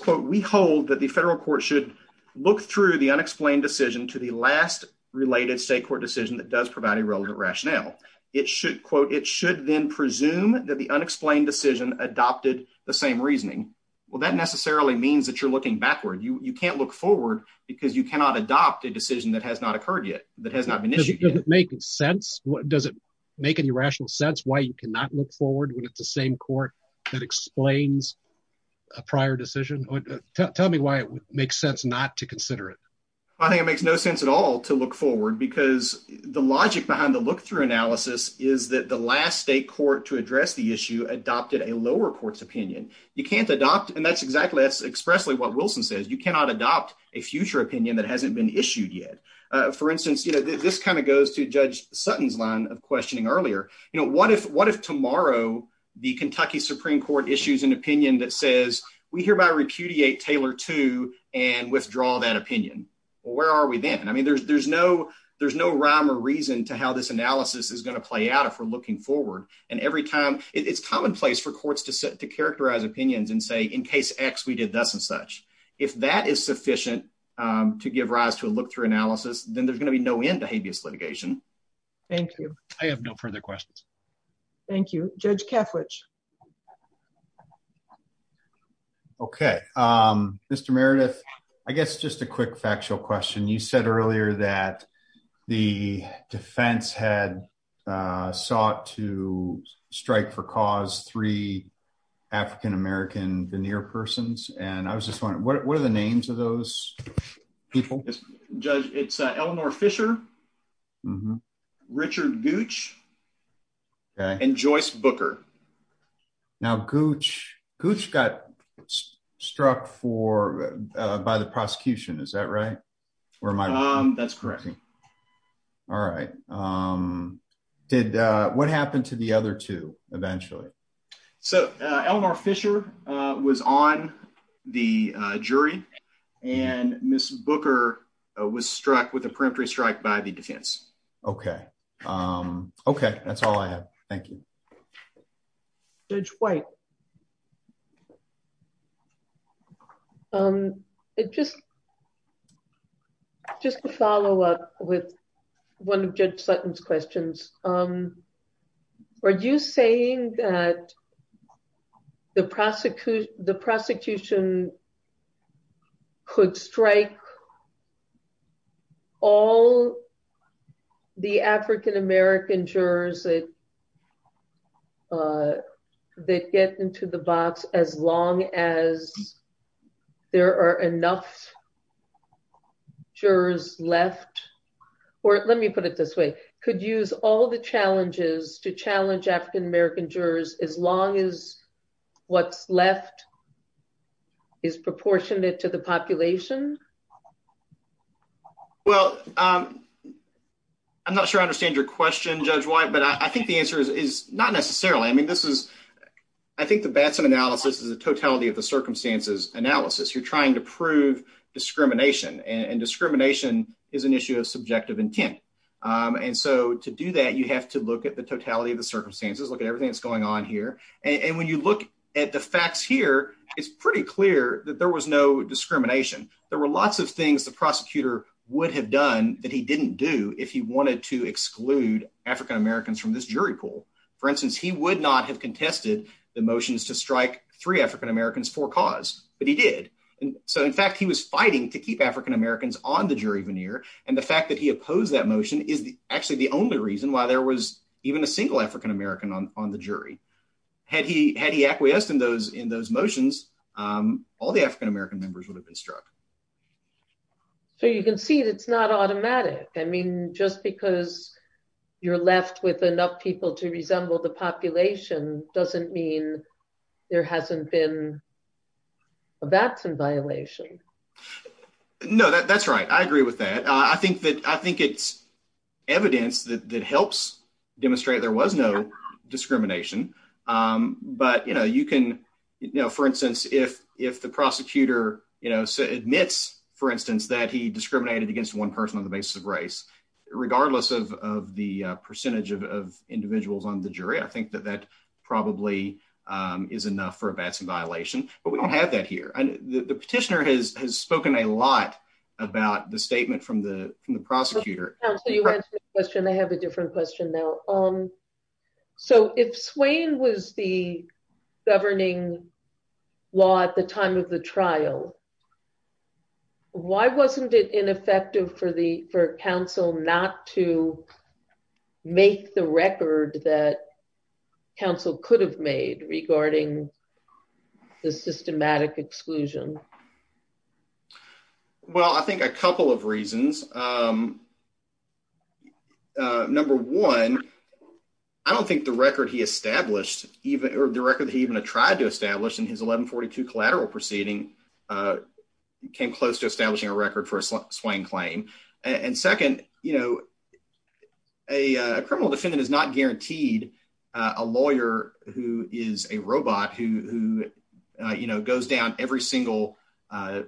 quote, we hold that the federal court should look through the unexplained decision to the last related state court decision that does provide a relevant rationale. It should, quote, it should then presume that the unexplained decision adopted the same reasoning. Well, that necessarily means that you're looking backward. You can't look forward because you cannot adopt a decision that has not occurred yet, that has not been issued yet. Does it make sense? Does it make any rational sense why you cannot look forward when it's the same court that explains a prior decision? Tell me why it makes sense not to consider it. I think it makes no sense at all to look forward because the logic behind the look-through analysis is that the last state court to address the issue adopted a lower court's opinion. You can't adopt – and that's exactly – that's expressly what Wilson says. You cannot adopt a future opinion that hasn't been issued yet. For instance, you know, this kind of goes to Judge Sutton's line of questioning earlier. You know, what if tomorrow the Kentucky Supreme Court issues an opinion that says we hereby repudiate Taylor II and withdraw that opinion? Well, where are we then? I mean, there's no rhyme or reason to how this analysis is going to play out if we're looking forward. And every time – it's commonplace for courts to characterize opinions and say, in case X, we did this and such. If that is sufficient to give rise to a look-through analysis, then there's going to be no end to habeas litigation. Thank you. I have no further questions. Thank you. Judge Kaffrich. Okay. Mr. Meredith, I guess just a quick factual question. You said earlier that the defense had sought to strike for cause three African-American veneer persons. And I was just wondering, what are the names of those people? Judge, it's Eleanor Fisher, Richard Gooch, and Joyce Booker. Now, Gooch got struck for – by the prosecution, is that right? That's correct. All right. What happened to the other two eventually? So, Eleanor Fisher was on the jury, and Mrs. Booker was struck with a peremptory strike by the defense. Okay. Okay. That's all I have. Thank you. Judge White. Just a follow-up with one of Judge Sutton's questions. Are you saying that the prosecution could strike all the African-American jurors that get into the box as long as there are enough jurors left? Or let me put it this way. Could use all the challenges to challenge African-American jurors as long as what's left is proportionate to the population? Well, I'm not sure I understand your question, Judge White, but I think the answer is not necessarily. I mean, this is – I think the Batson analysis is a totality of the circumstances analysis. You're trying to prove discrimination. And discrimination is an issue of subjective intent. And so to do that, you have to look at the totality of the circumstances, look at everything that's going on here. And when you look at the facts here, it's pretty clear that there was no discrimination. There were lots of things the prosecutor would have done that he didn't do if he wanted to exclude African-Americans from this jury pool. For instance, he would not have contested the motions to strike three African-Americans for cause, but he did. So, in fact, he was fighting to keep African-Americans on the jury veneer. And the fact that he opposed that motion is actually the only reason why there was even a single African-American on the jury. Had he acquiesced in those motions, all the African-American members would have been struck. So you can see it's not automatic. I mean, just because you're left with enough people to resemble the population doesn't mean there hasn't been a Batson violation. No, that's right. I agree with that. I think it's evidence that helps demonstrate there was no discrimination. But, you know, for instance, if the prosecutor admits, for instance, that he discriminated against one person on the basis of race, regardless of the percentage of individuals on the jury, I think that that probably is enough for a Batson violation. But we don't have that here. The petitioner has spoken a lot about the statement from the prosecutor. I have a different question now. So if Swain was the governing law at the time of the trial, why wasn't it ineffective for counsel not to make the record that counsel could have made regarding the systematic exclusion? Well, I think a couple of reasons. Number one, I don't think the record he established or the record he even tried to establish in his 1142 collateral proceeding came close to establishing a record for a Swain claim. And second, you know, a criminal defendant is not guaranteed a lawyer who is a robot who, you know, goes down every single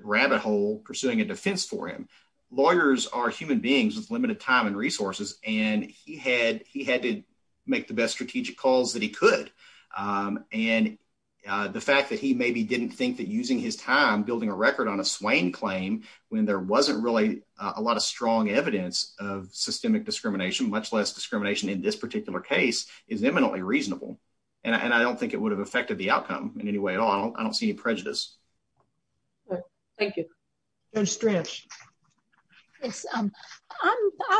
rabbit hole pursuing a defense for him. Lawyers are human beings with limited time and resources, and he had to make the best strategic calls that he could. And the fact that he maybe didn't think that using his time building a record on a Swain claim when there wasn't really a lot of strong evidence of systemic discrimination, much less discrimination in this particular case, is eminently reasonable. And I don't think it would have affected the outcome in any way at all. I don't see a prejudice. Thank you. I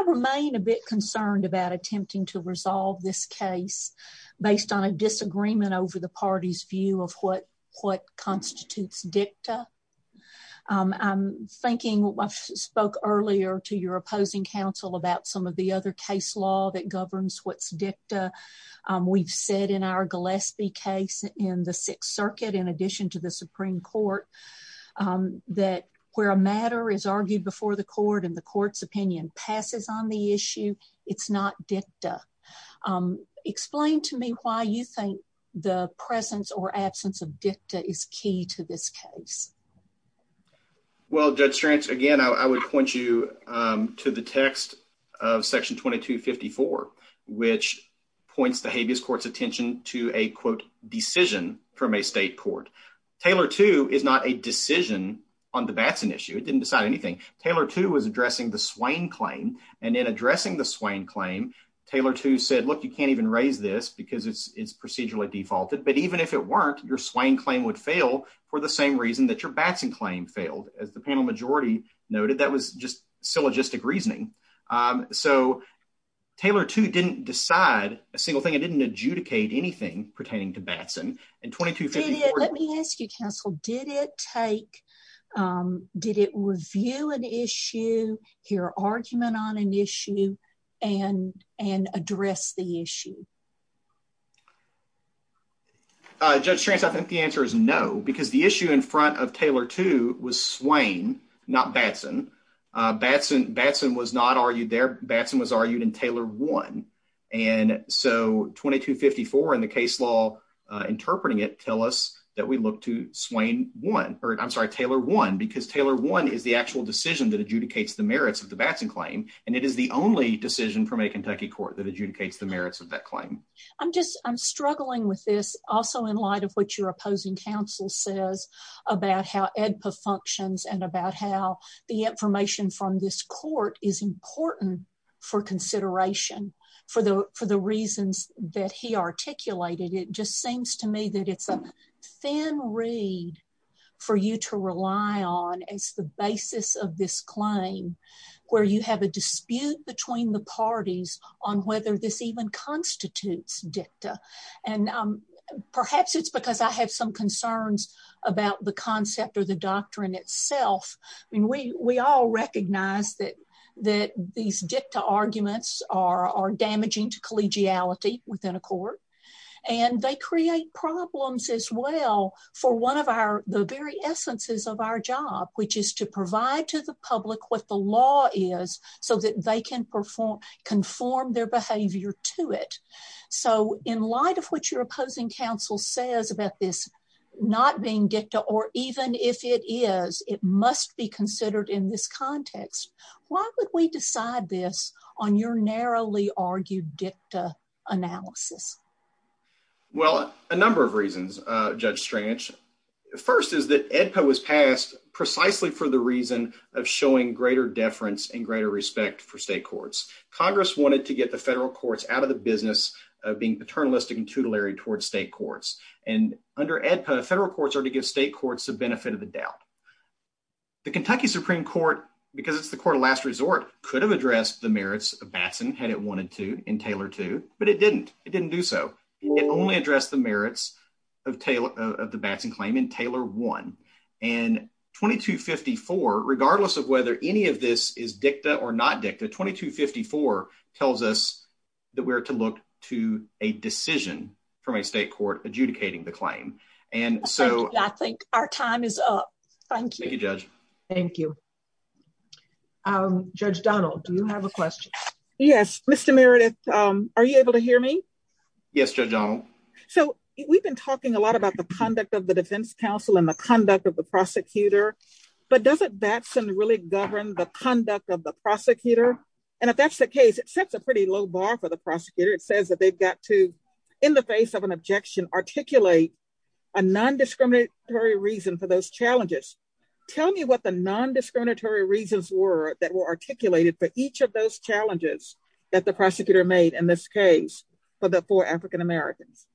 remain a bit concerned about attempting to resolve this case based on a disagreement over the party's view of what constitutes dicta. I'm thinking, I spoke earlier to your opposing counsel about some of the other case law that governs what's dicta. We've said in our Gillespie case in the Sixth Circuit, in addition to the Supreme Court, that where a matter is argued before the court and the court's opinion passes on the issue, it's not dicta. Explain to me why you think the presence or absence of dicta is key to this case. Well, Judge Strantz, again, I would point you to the text of Section 2254, which points the habeas court's attention to a, quote, decision from a state court. Taylor II is not a decision on the Batson issue. It didn't decide anything. Taylor II was addressing the Swain claim. And in addressing the Swain claim, Taylor II said, look, you can't even raise this because it's procedurally defaulted. But even if it weren't, your Swain claim would fail for the same reason that your Batson claim failed. As the panel majority noted, that was just syllogistic reasoning. So Taylor II didn't decide a single thing. It didn't adjudicate anything pertaining to Batson. Let me ask you, counsel, did it review an issue, hear argument on an issue, and address the issue? Judge Tranz, I think the answer is no, because the issue in front of Taylor II was Swain, not Batson. Batson was not argued there. Batson was argued in Taylor I. And so 2254 and the case law interpreting it tell us that we look to Taylor I, because Taylor I is the actual decision that adjudicates the merits of the Batson claim. And it is the only decision from a Kentucky court that adjudicates the merits of that claim. I'm struggling with this also in light of what your opposing counsel says about how AEDPA functions and about how the information from this court is important for consideration for the reasons that he articulated. It just seems to me that it's a thin reed for you to rely on. It's the basis of this claim where you have a dispute between the parties on whether this even constitutes dicta. And perhaps it's because I had some concerns about the concept or the doctrine itself. We all recognize that these dicta arguments are damaging to collegiality within a court. And they create problems as well for one of the very essences of our job, which is to provide to the public what the law is so that they can conform their behavior to it. So in light of what your opposing counsel says about this not being dicta or even if it is, it must be considered in this context, why would we decide this on your narrowly argued dicta analysis? Well, a number of reasons, Judge Strange. First is that AEDPA was passed precisely for the reason of showing greater deference and greater respect for state courts. Congress wanted to get the federal courts out of the business of being paternalistic and tutelary towards state courts. And under AEDPA, federal courts are to give state courts the benefit of the doubt. The Kentucky Supreme Court, because it's the court of last resort, could have addressed the merits of Batson had it wanted to in Taylor 2, but it didn't. It didn't do so. It only addressed the merits of the Batson claim in Taylor 1. And 2254, regardless of whether any of this is dicta or not dicta, 2254 tells us that we're to look to a decision from a state court adjudicating the claim. I think our time is up. Thank you. Thank you, Judge. Thank you. Judge Donald, do you have a question? Yes. Mr. Meredith, are you able to hear me? Yes, Judge Donald. So we've been talking a lot about the conduct of the defense counsel and the conduct of the prosecutor. But doesn't Batson really govern the conduct of the prosecutor? And if that's the case, it sets a pretty low bar for the prosecutor. It says that they've got to, in the face of an objection, articulate a non-discriminatory reason for those challenges. Tell me what the non-discriminatory reasons were that were articulated for each of those challenges that the prosecutor made in this case for the four African-Americans.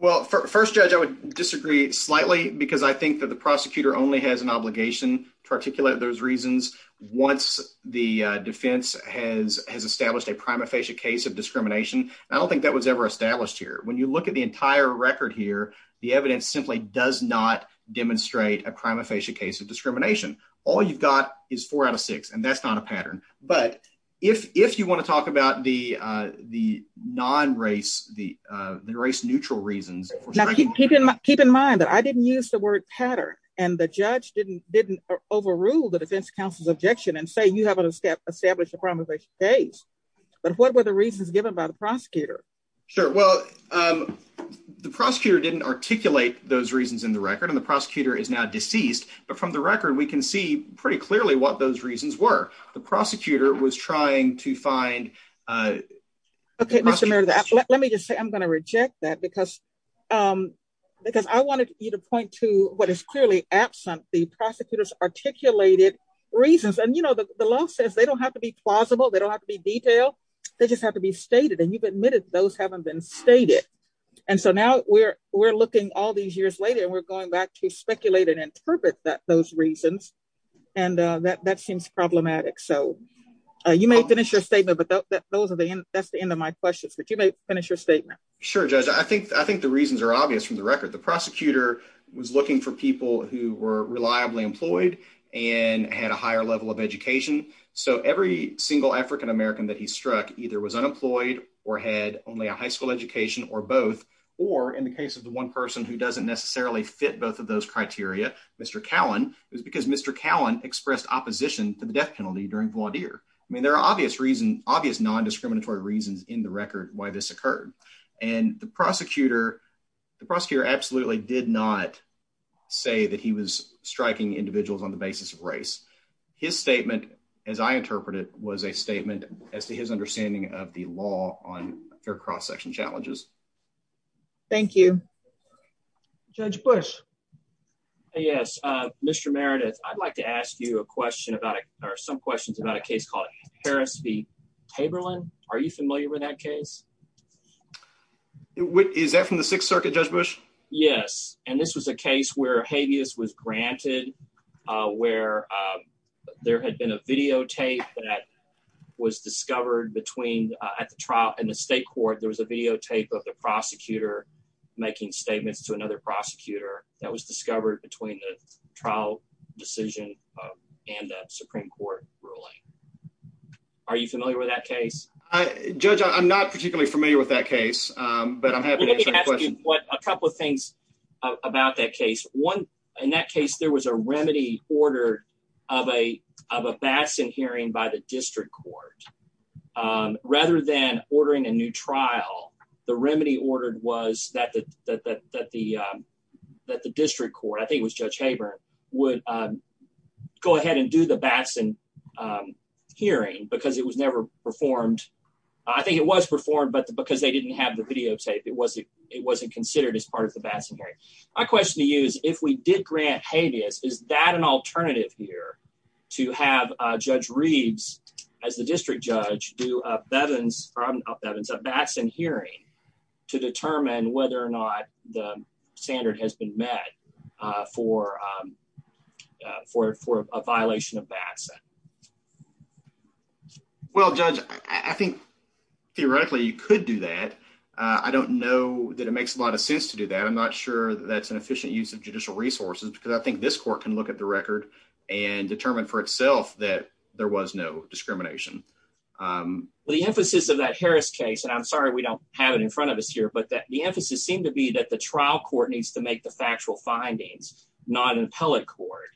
Well, first, Judge, I would disagree slightly because I think that the prosecutor only has an obligation to articulate those reasons once the defense has established a prima facie case of discrimination. I don't think that was ever established here. When you look at the entire record here, the evidence simply does not demonstrate a prima facie case of discrimination. All you've got is four out of six, and that's not a pattern. But if you want to talk about the non-race, the race-neutral reasons. Now, keep in mind that I didn't use the word pattern, and the judge didn't overrule the defense counsel's objection and say you haven't established a prima facie case. Sure. Well, the prosecutor didn't articulate those reasons in the record, and the prosecutor is now deceased. But from the record, we can see pretty clearly what those reasons were. The prosecutor was trying to find... Okay, Mr. Merida, let me just say I'm going to reject that because I wanted you to point to what is clearly absent, the prosecutor's articulated reasons. And, you know, the law says they don't have to be plausible, they don't have to be detailed, they just have to be stated. And you've admitted those haven't been stated. And so now we're looking all these years later, and we're going back to speculate and interpret those reasons, and that seems problematic. So you may finish your statement, but that's the end of my questions. But you may finish your statement. Sure, Judge. I think the reasons are obvious from the record. The prosecutor was looking for people who were reliably employed and had a higher level of education. So every single African-American that he struck either was unemployed or had only a high school education or both, or in the case of the one person who doesn't necessarily fit both of those criteria, Mr. Cowan, is because Mr. Cowan expressed opposition to the death penalty during Gwadir. I mean there are obvious reasons, obvious nondiscriminatory reasons in the record why this occurred. And the prosecutor, the prosecutor absolutely did not say that he was striking individuals on the basis of race. His statement, as I interpret it, was a statement as to his understanding of the law on hair cross section challenges. Thank you. Judge Bush. Yes, Mr. Meredith, I'd like to ask you a question about or some questions about a case called Harris v. Haberlin. Are you familiar with that case? Is that from the Sixth Circuit, Judge Bush? Yes, and this was a case where habeas was granted, where there had been a videotape that was discovered between the trial and the state court. There was a videotape of the prosecutor making statements to another prosecutor that was discovered between the trial decision and the Supreme Court ruling. Are you familiar with that case? Judge, I'm not particularly familiar with that case, but I'm happy to answer your question. A couple of things about that case. One, in that case, there was a remedy order of a vaccine hearing by the district court. Rather than ordering a new trial, the remedy order was that the district court, I think it was Judge Haber, would go ahead and do the vaccine hearing because it was never performed. I think it was performed, but because they didn't have the videotape, it wasn't considered as part of the vaccine hearing. My question to you is, if we did grant habeas, is that an alternative here to have Judge Reeds, as the district judge, do a vaccine hearing to determine whether or not the standard has been met for a violation of vaccine? Well, Judge, I think theoretically you could do that. I don't know that it makes a lot of sense to do that. I'm not sure that's an efficient use of judicial resources because I think this court can look at the record and determine for itself that there was no discrimination. The emphasis of that Harris case, and I'm sorry we don't have it in front of us here, but the emphasis seemed to be that the trial court needs to make the factual findings, not in the appellate court,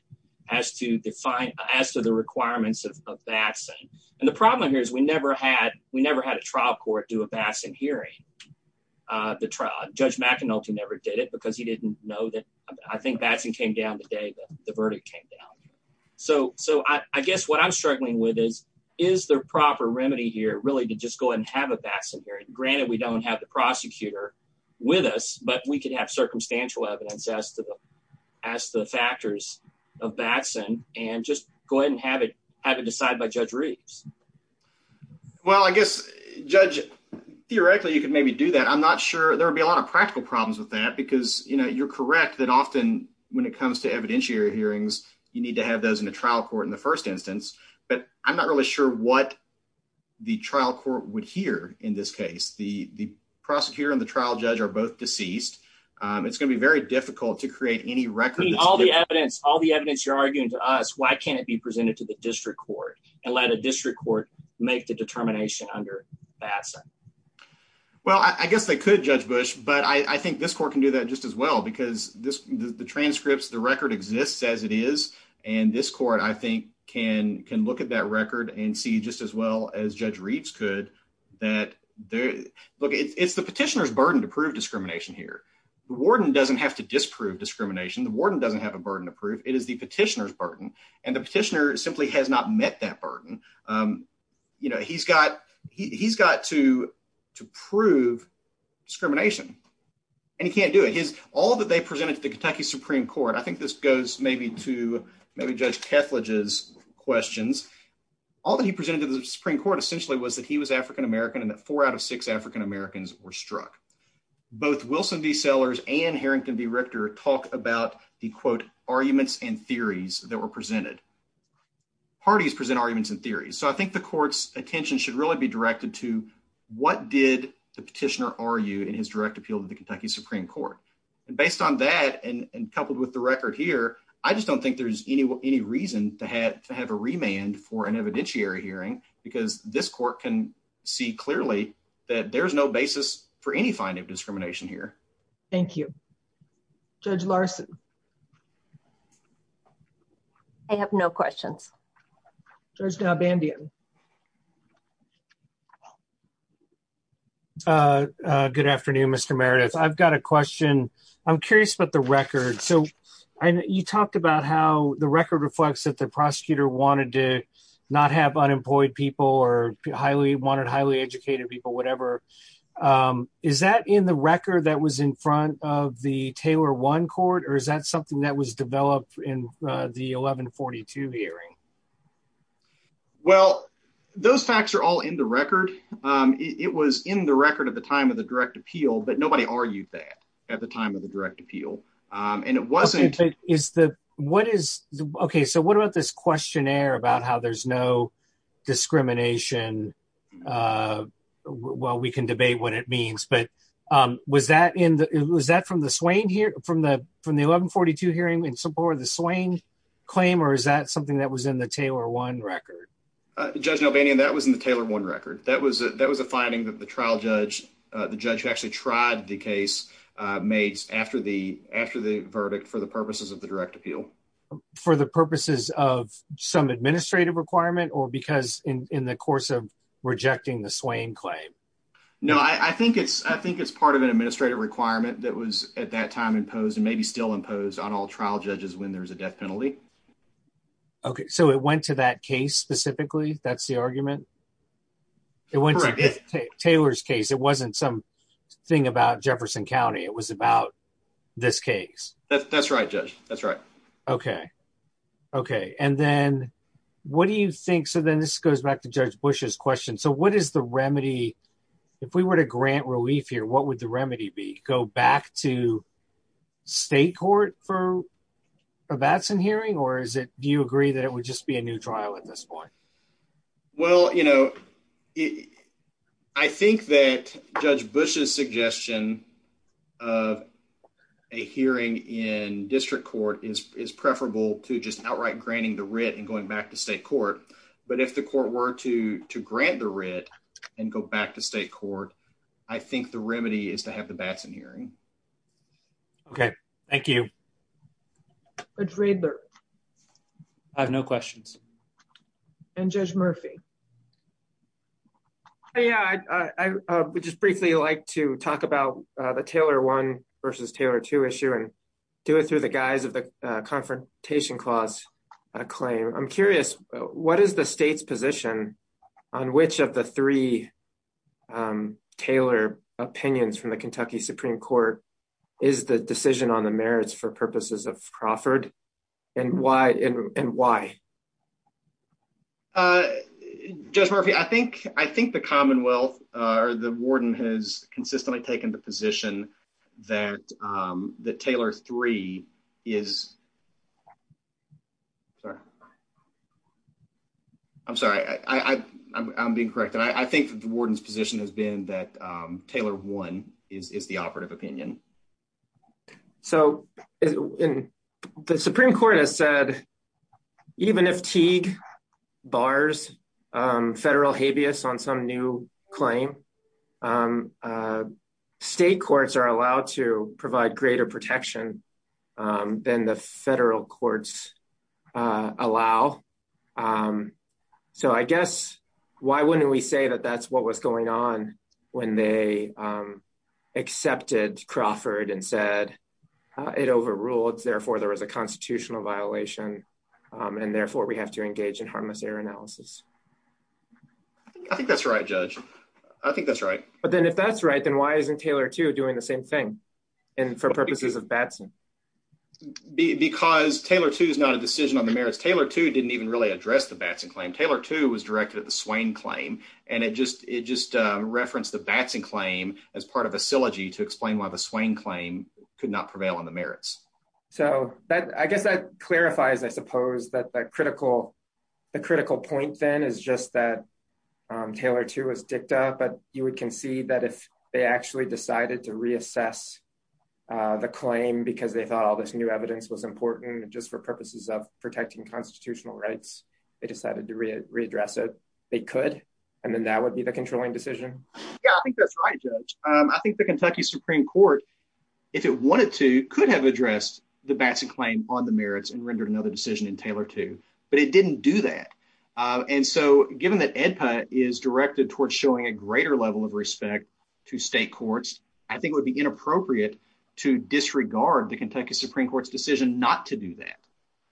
as to the requirements of vaccine. And the problem here is we never had a trial court do a vaccine hearing. Judge McAnulty never did it because he didn't know that. I think vaccine came down the day the verdict came down. So I guess what I'm struggling with is, is there a proper remedy here, really, to just go ahead and have a vaccine hearing? Granted, we don't have the prosecutor with us, but we could have circumstantial evidence as to the factors of vaccine and just go ahead and have it decided by Judge Reeds. Well, I guess, Judge, theoretically, you could maybe do that. I'm not sure there would be a lot of practical problems with that because, you know, you're correct that often when it comes to evidentiary hearings, you need to have those in the trial court in the first instance. But I'm not really sure what the trial court would hear in this case. The prosecutor and the trial judge are both deceased. It's going to be very difficult to create any record. I mean, all the evidence, all the evidence you're arguing to us, why can't it be presented to the district court and let a district court make the determination under the vaccine? Well, I guess they could, Judge Bush, but I think this court can do that just as well because the transcripts, the record exists as it is. And this court, I think, can look at that record and see just as well as Judge Reeds could. Look, it's the petitioner's burden to prove discrimination here. The warden doesn't have to disprove discrimination. The warden doesn't have a burden to prove. It is the petitioner's burden, and the petitioner simply has not met that burden. You know, he's got to prove discrimination, and he can't do it. All that they presented to the Kentucky Supreme Court, I think this goes maybe to maybe Judge Ketledge's questions. All that he presented to the Supreme Court essentially was that he was African American and that four out of six African Americans were struck. Both Wilson v. Sellers and Harrington v. Richter talk about the, quote, arguments and theories that were presented. Parties present arguments and theories. So I think the court's attention should really be directed to what did the petitioner argue in his direct appeal to the Kentucky Supreme Court. Based on that and coupled with the record here, I just don't think there's any reason to have a remand for an evidentiary hearing because this court can see clearly that there's no basis for any finding of discrimination here. Thank you. Judge Larson. I have no questions. Judge Galbandio. Good afternoon, Mr. Meredith. I've got a question. I'm curious about the record. So you talked about how the record reflects that the prosecutor wanted to not have unemployed people or wanted highly educated people, whatever. Is that in the record that was in front of the Taylor One court, or is that something that was developed in the 1142 hearing? Well, those facts are all in the record. It was in the record at the time of the direct appeal, but nobody argued that at the time of the direct appeal. Okay, so what about this questionnaire about how there's no discrimination? Well, we can debate what it means, but was that from the 1142 hearing in support of the Swain claim, or is that something that was in the Taylor One record? Judge Galbandio, that was in the Taylor One record. That was a finding that the trial judge, the judge actually tried the case made after the verdict for the purposes of the direct appeal. For the purposes of some administrative requirement or because in the course of rejecting the Swain claim? No, I think it's part of an administrative requirement that was at that time imposed and maybe still imposed on all trial judges when there's a death penalty. Okay, so it went to that case specifically? That's the argument? It went to Taylor's case. It wasn't some thing about Jefferson County. It was about this case. That's right, Judge. That's right. Okay. Okay, and then what do you think? So then this goes back to Judge Bush's question. So what is the remedy? If we were to grant relief here, what would the remedy be? Go back to state court for a Batson hearing? Or do you agree that it would just be a new trial at this point? Well, you know, I think that Judge Bush's suggestion of a hearing in district court is preferable to just outright granting the writ and going back to state court. But if the court were to grant the writ and go back to state court, I think the remedy is to have the Batson hearing. Okay. Thank you. Judge Raidler? I have no questions. And Judge Murphy? Yeah, I would just briefly like to talk about the Taylor 1 versus Taylor 2 issue and do it through the guise of the confrontation clause claim. I'm curious, what is the state's position on which of the three Taylor opinions from the Kentucky Supreme Court is the decision on the merits for purposes of Crawford? And why? Judge Murphy, I think the Commonwealth or the warden has consistently taken the position that the Taylor 3 is ‑‑ I'm sorry. I'm being corrected. I think the warden's position has been that Taylor 1 is the operative opinion. So the Supreme Court has said even if Teague bars federal habeas on some new claim, state courts are allowed to provide greater protection than the federal courts allow. So I guess why wouldn't we say that that's what was going on when they accepted Crawford and said it overruled, therefore there was a constitutional violation, and therefore we have to engage in harmless error analysis? I think that's right, Judge. I think that's right. But then if that's right, then why isn't Taylor 2 doing the same thing for purposes of Batson? Because Taylor 2 is not a decision on the merits. Taylor 2 didn't even really address the Batson claim. Taylor 2 was directed at the Swain claim, and it just referenced the Batson claim as part of a syllogy to explain why the Swain claim could not prevail on the merits. So I guess that clarifies, I suppose, that the critical point then is just that Taylor 2 was dicked out, but you would concede that if they actually decided to reassess the claim because they thought all this new evidence was important just for purposes of protecting constitutional rights, they decided to readdress it, they could, and then that would be the controlling decision? Yeah, I think that's right, Judge. I think the Kentucky Supreme Court, if it wanted to, could have addressed the Batson claim on the merits and rendered another decision in Taylor 2, but it didn't do that. And so given that AEDPA is directed towards showing a greater level of respect to state courts, I think it would be inappropriate to disregard the Kentucky Supreme Court's decision not to do that.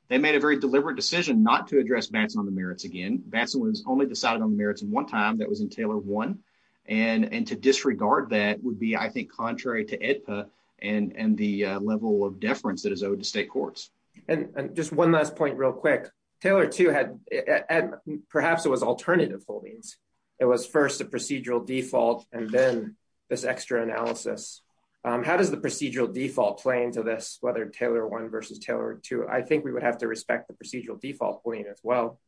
They made a very deliberate decision not to address Batson on the merits again. Batson was only decided on the merits one time, that was in Taylor 1, and to disregard that would be, I think, contrary to AEDPA and the level of deference that is owed to state courts. And just one last point real quick. Taylor 2 had – perhaps it was alternative holdings. It was first a procedural default and then this extra analysis. How does the procedural default play into this, whether Taylor 1 versus Taylor 2? I think we would have to respect the procedural default point as well.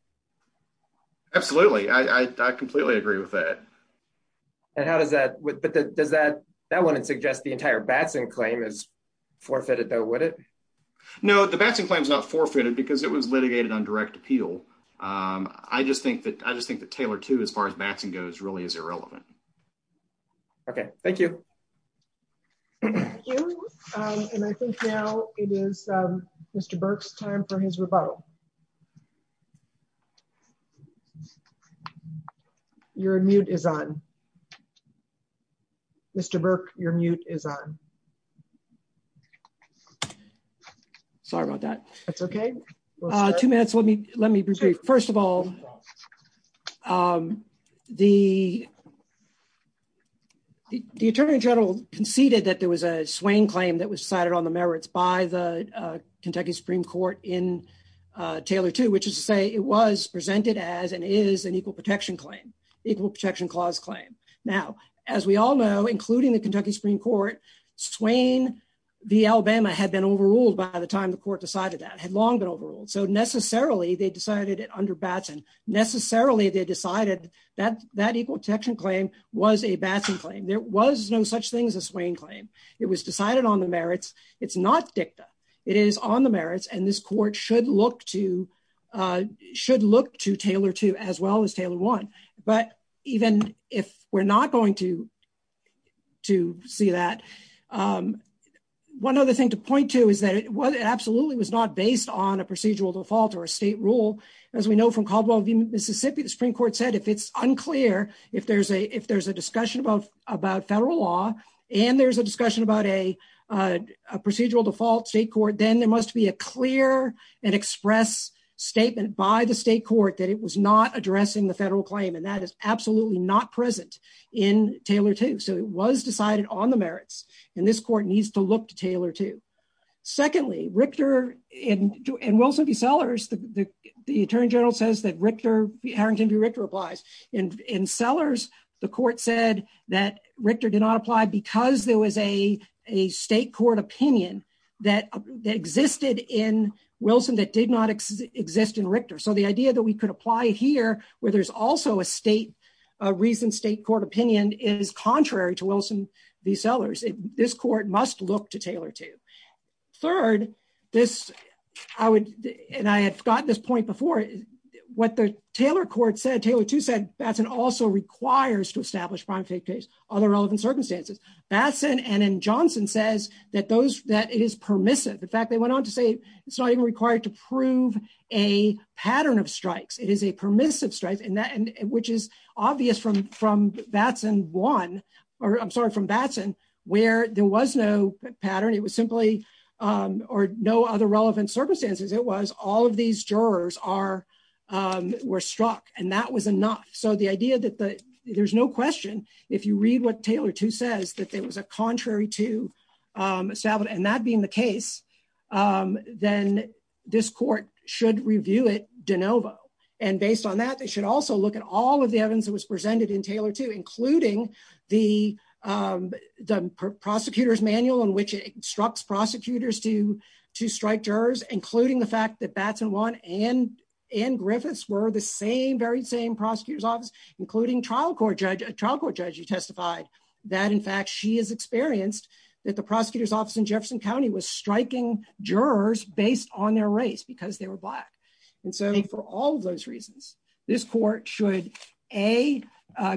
Absolutely. I completely agree with that. And how does that – that wouldn't suggest the entire Batson claim is forfeited, though, would it? No, the Batson claim is not forfeited because it was litigated on direct appeal. I just think that Taylor 2, as far as Batson goes, really is irrelevant. Okay, thank you. Thank you. And I think now it is Mr. Burke's time for his rebuttal. Your mute is on. Mr. Burke, your mute is on. Sorry about that. That's okay. Two minutes. First of all, the Attorney General conceded that there was a Swain claim that was decided on the merits by the Kentucky Supreme Court in Taylor 2, which is to say it was presented as and is an Equal Protection Clause claim. Now, as we all know, including the Kentucky Supreme Court, Swain v. Alabama had been overruled by the time the court decided that. It had long been overruled. So necessarily they decided it under Batson. Necessarily they decided that Equal Protection Claim was a Batson claim. There was no such thing as a Swain claim. It was decided on the merits. It's not dicta. It is on the merits, and this court should look to Taylor 2 as well as Taylor 1. But even if we're not going to see that, one other thing to point to is that it absolutely was not based on a procedural default or a state rule. As we know from Caldwell v. Mississippi, the Supreme Court said if it's unclear, if there's a discussion about federal law and there's a discussion about a procedural default state court, then there must be a clear and expressed statement by the state court that it was not addressing the federal claim, and that is absolutely not present in Taylor 2. So it was decided on the merits, and this court needs to look to Taylor 2. Secondly, Richter and Wilson v. Sellers, the Attorney General says that Harington v. Richter applies. In Sellers, the court said that Richter did not apply because there was a state court opinion that existed in Wilson that did not exist in Richter. So the idea that we could apply it here where there's also a recent state court opinion is contrary to Wilson v. Sellers. This court must look to Taylor 2. Third, and I had gotten this point before, what the Taylor court said, Taylor 2 said, Batson also requires to establish prime safe space under relevant circumstances. Batson and Johnson says that it is permissive. In fact, they went on to say it's not even required to prove a pattern of strikes. It is a permissive strike, which is obvious from Batson 1, or I'm sorry, from Batson, where there was no pattern. It was simply, or no other relevant circumstances. It was all of these jurors were struck, and that was enough. So the idea that there's no question, if you read what Taylor 2 says, that it was a contrary to Savitt, and that being the case, then this court should review it de novo. And based on that, they should also look at all of the evidence that was presented in Taylor 2, including the prosecutor's manual in which it instructs prosecutors to strike jurors, including the fact that Batson 1 and Griffiths were the same, very same prosecutor's office, including a trial court judge who testified that, in fact, she has experienced that the prosecutor's office in Jefferson County was striking jurors based on their race because they were black. And so for all of those reasons, this court should, A,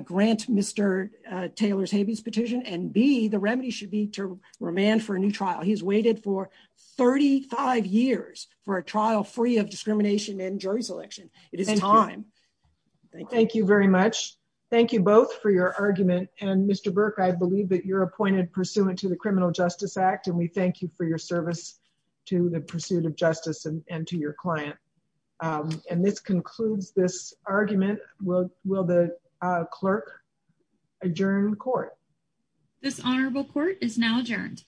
grant Mr. Taylor's habeas petition, and B, the remedy should be to remand for a new trial. He's waited for 35 years for a trial free of discrimination in jury selection. It is time. Thank you very much. Thank you both for your argument. And Mr. Burke, I believe that you're appointed pursuant to the Criminal Justice Act, and we thank you for your service to the pursuit of justice and to your client. And this concludes this argument. Will the clerk adjourn court? This honorable court is now adjourned.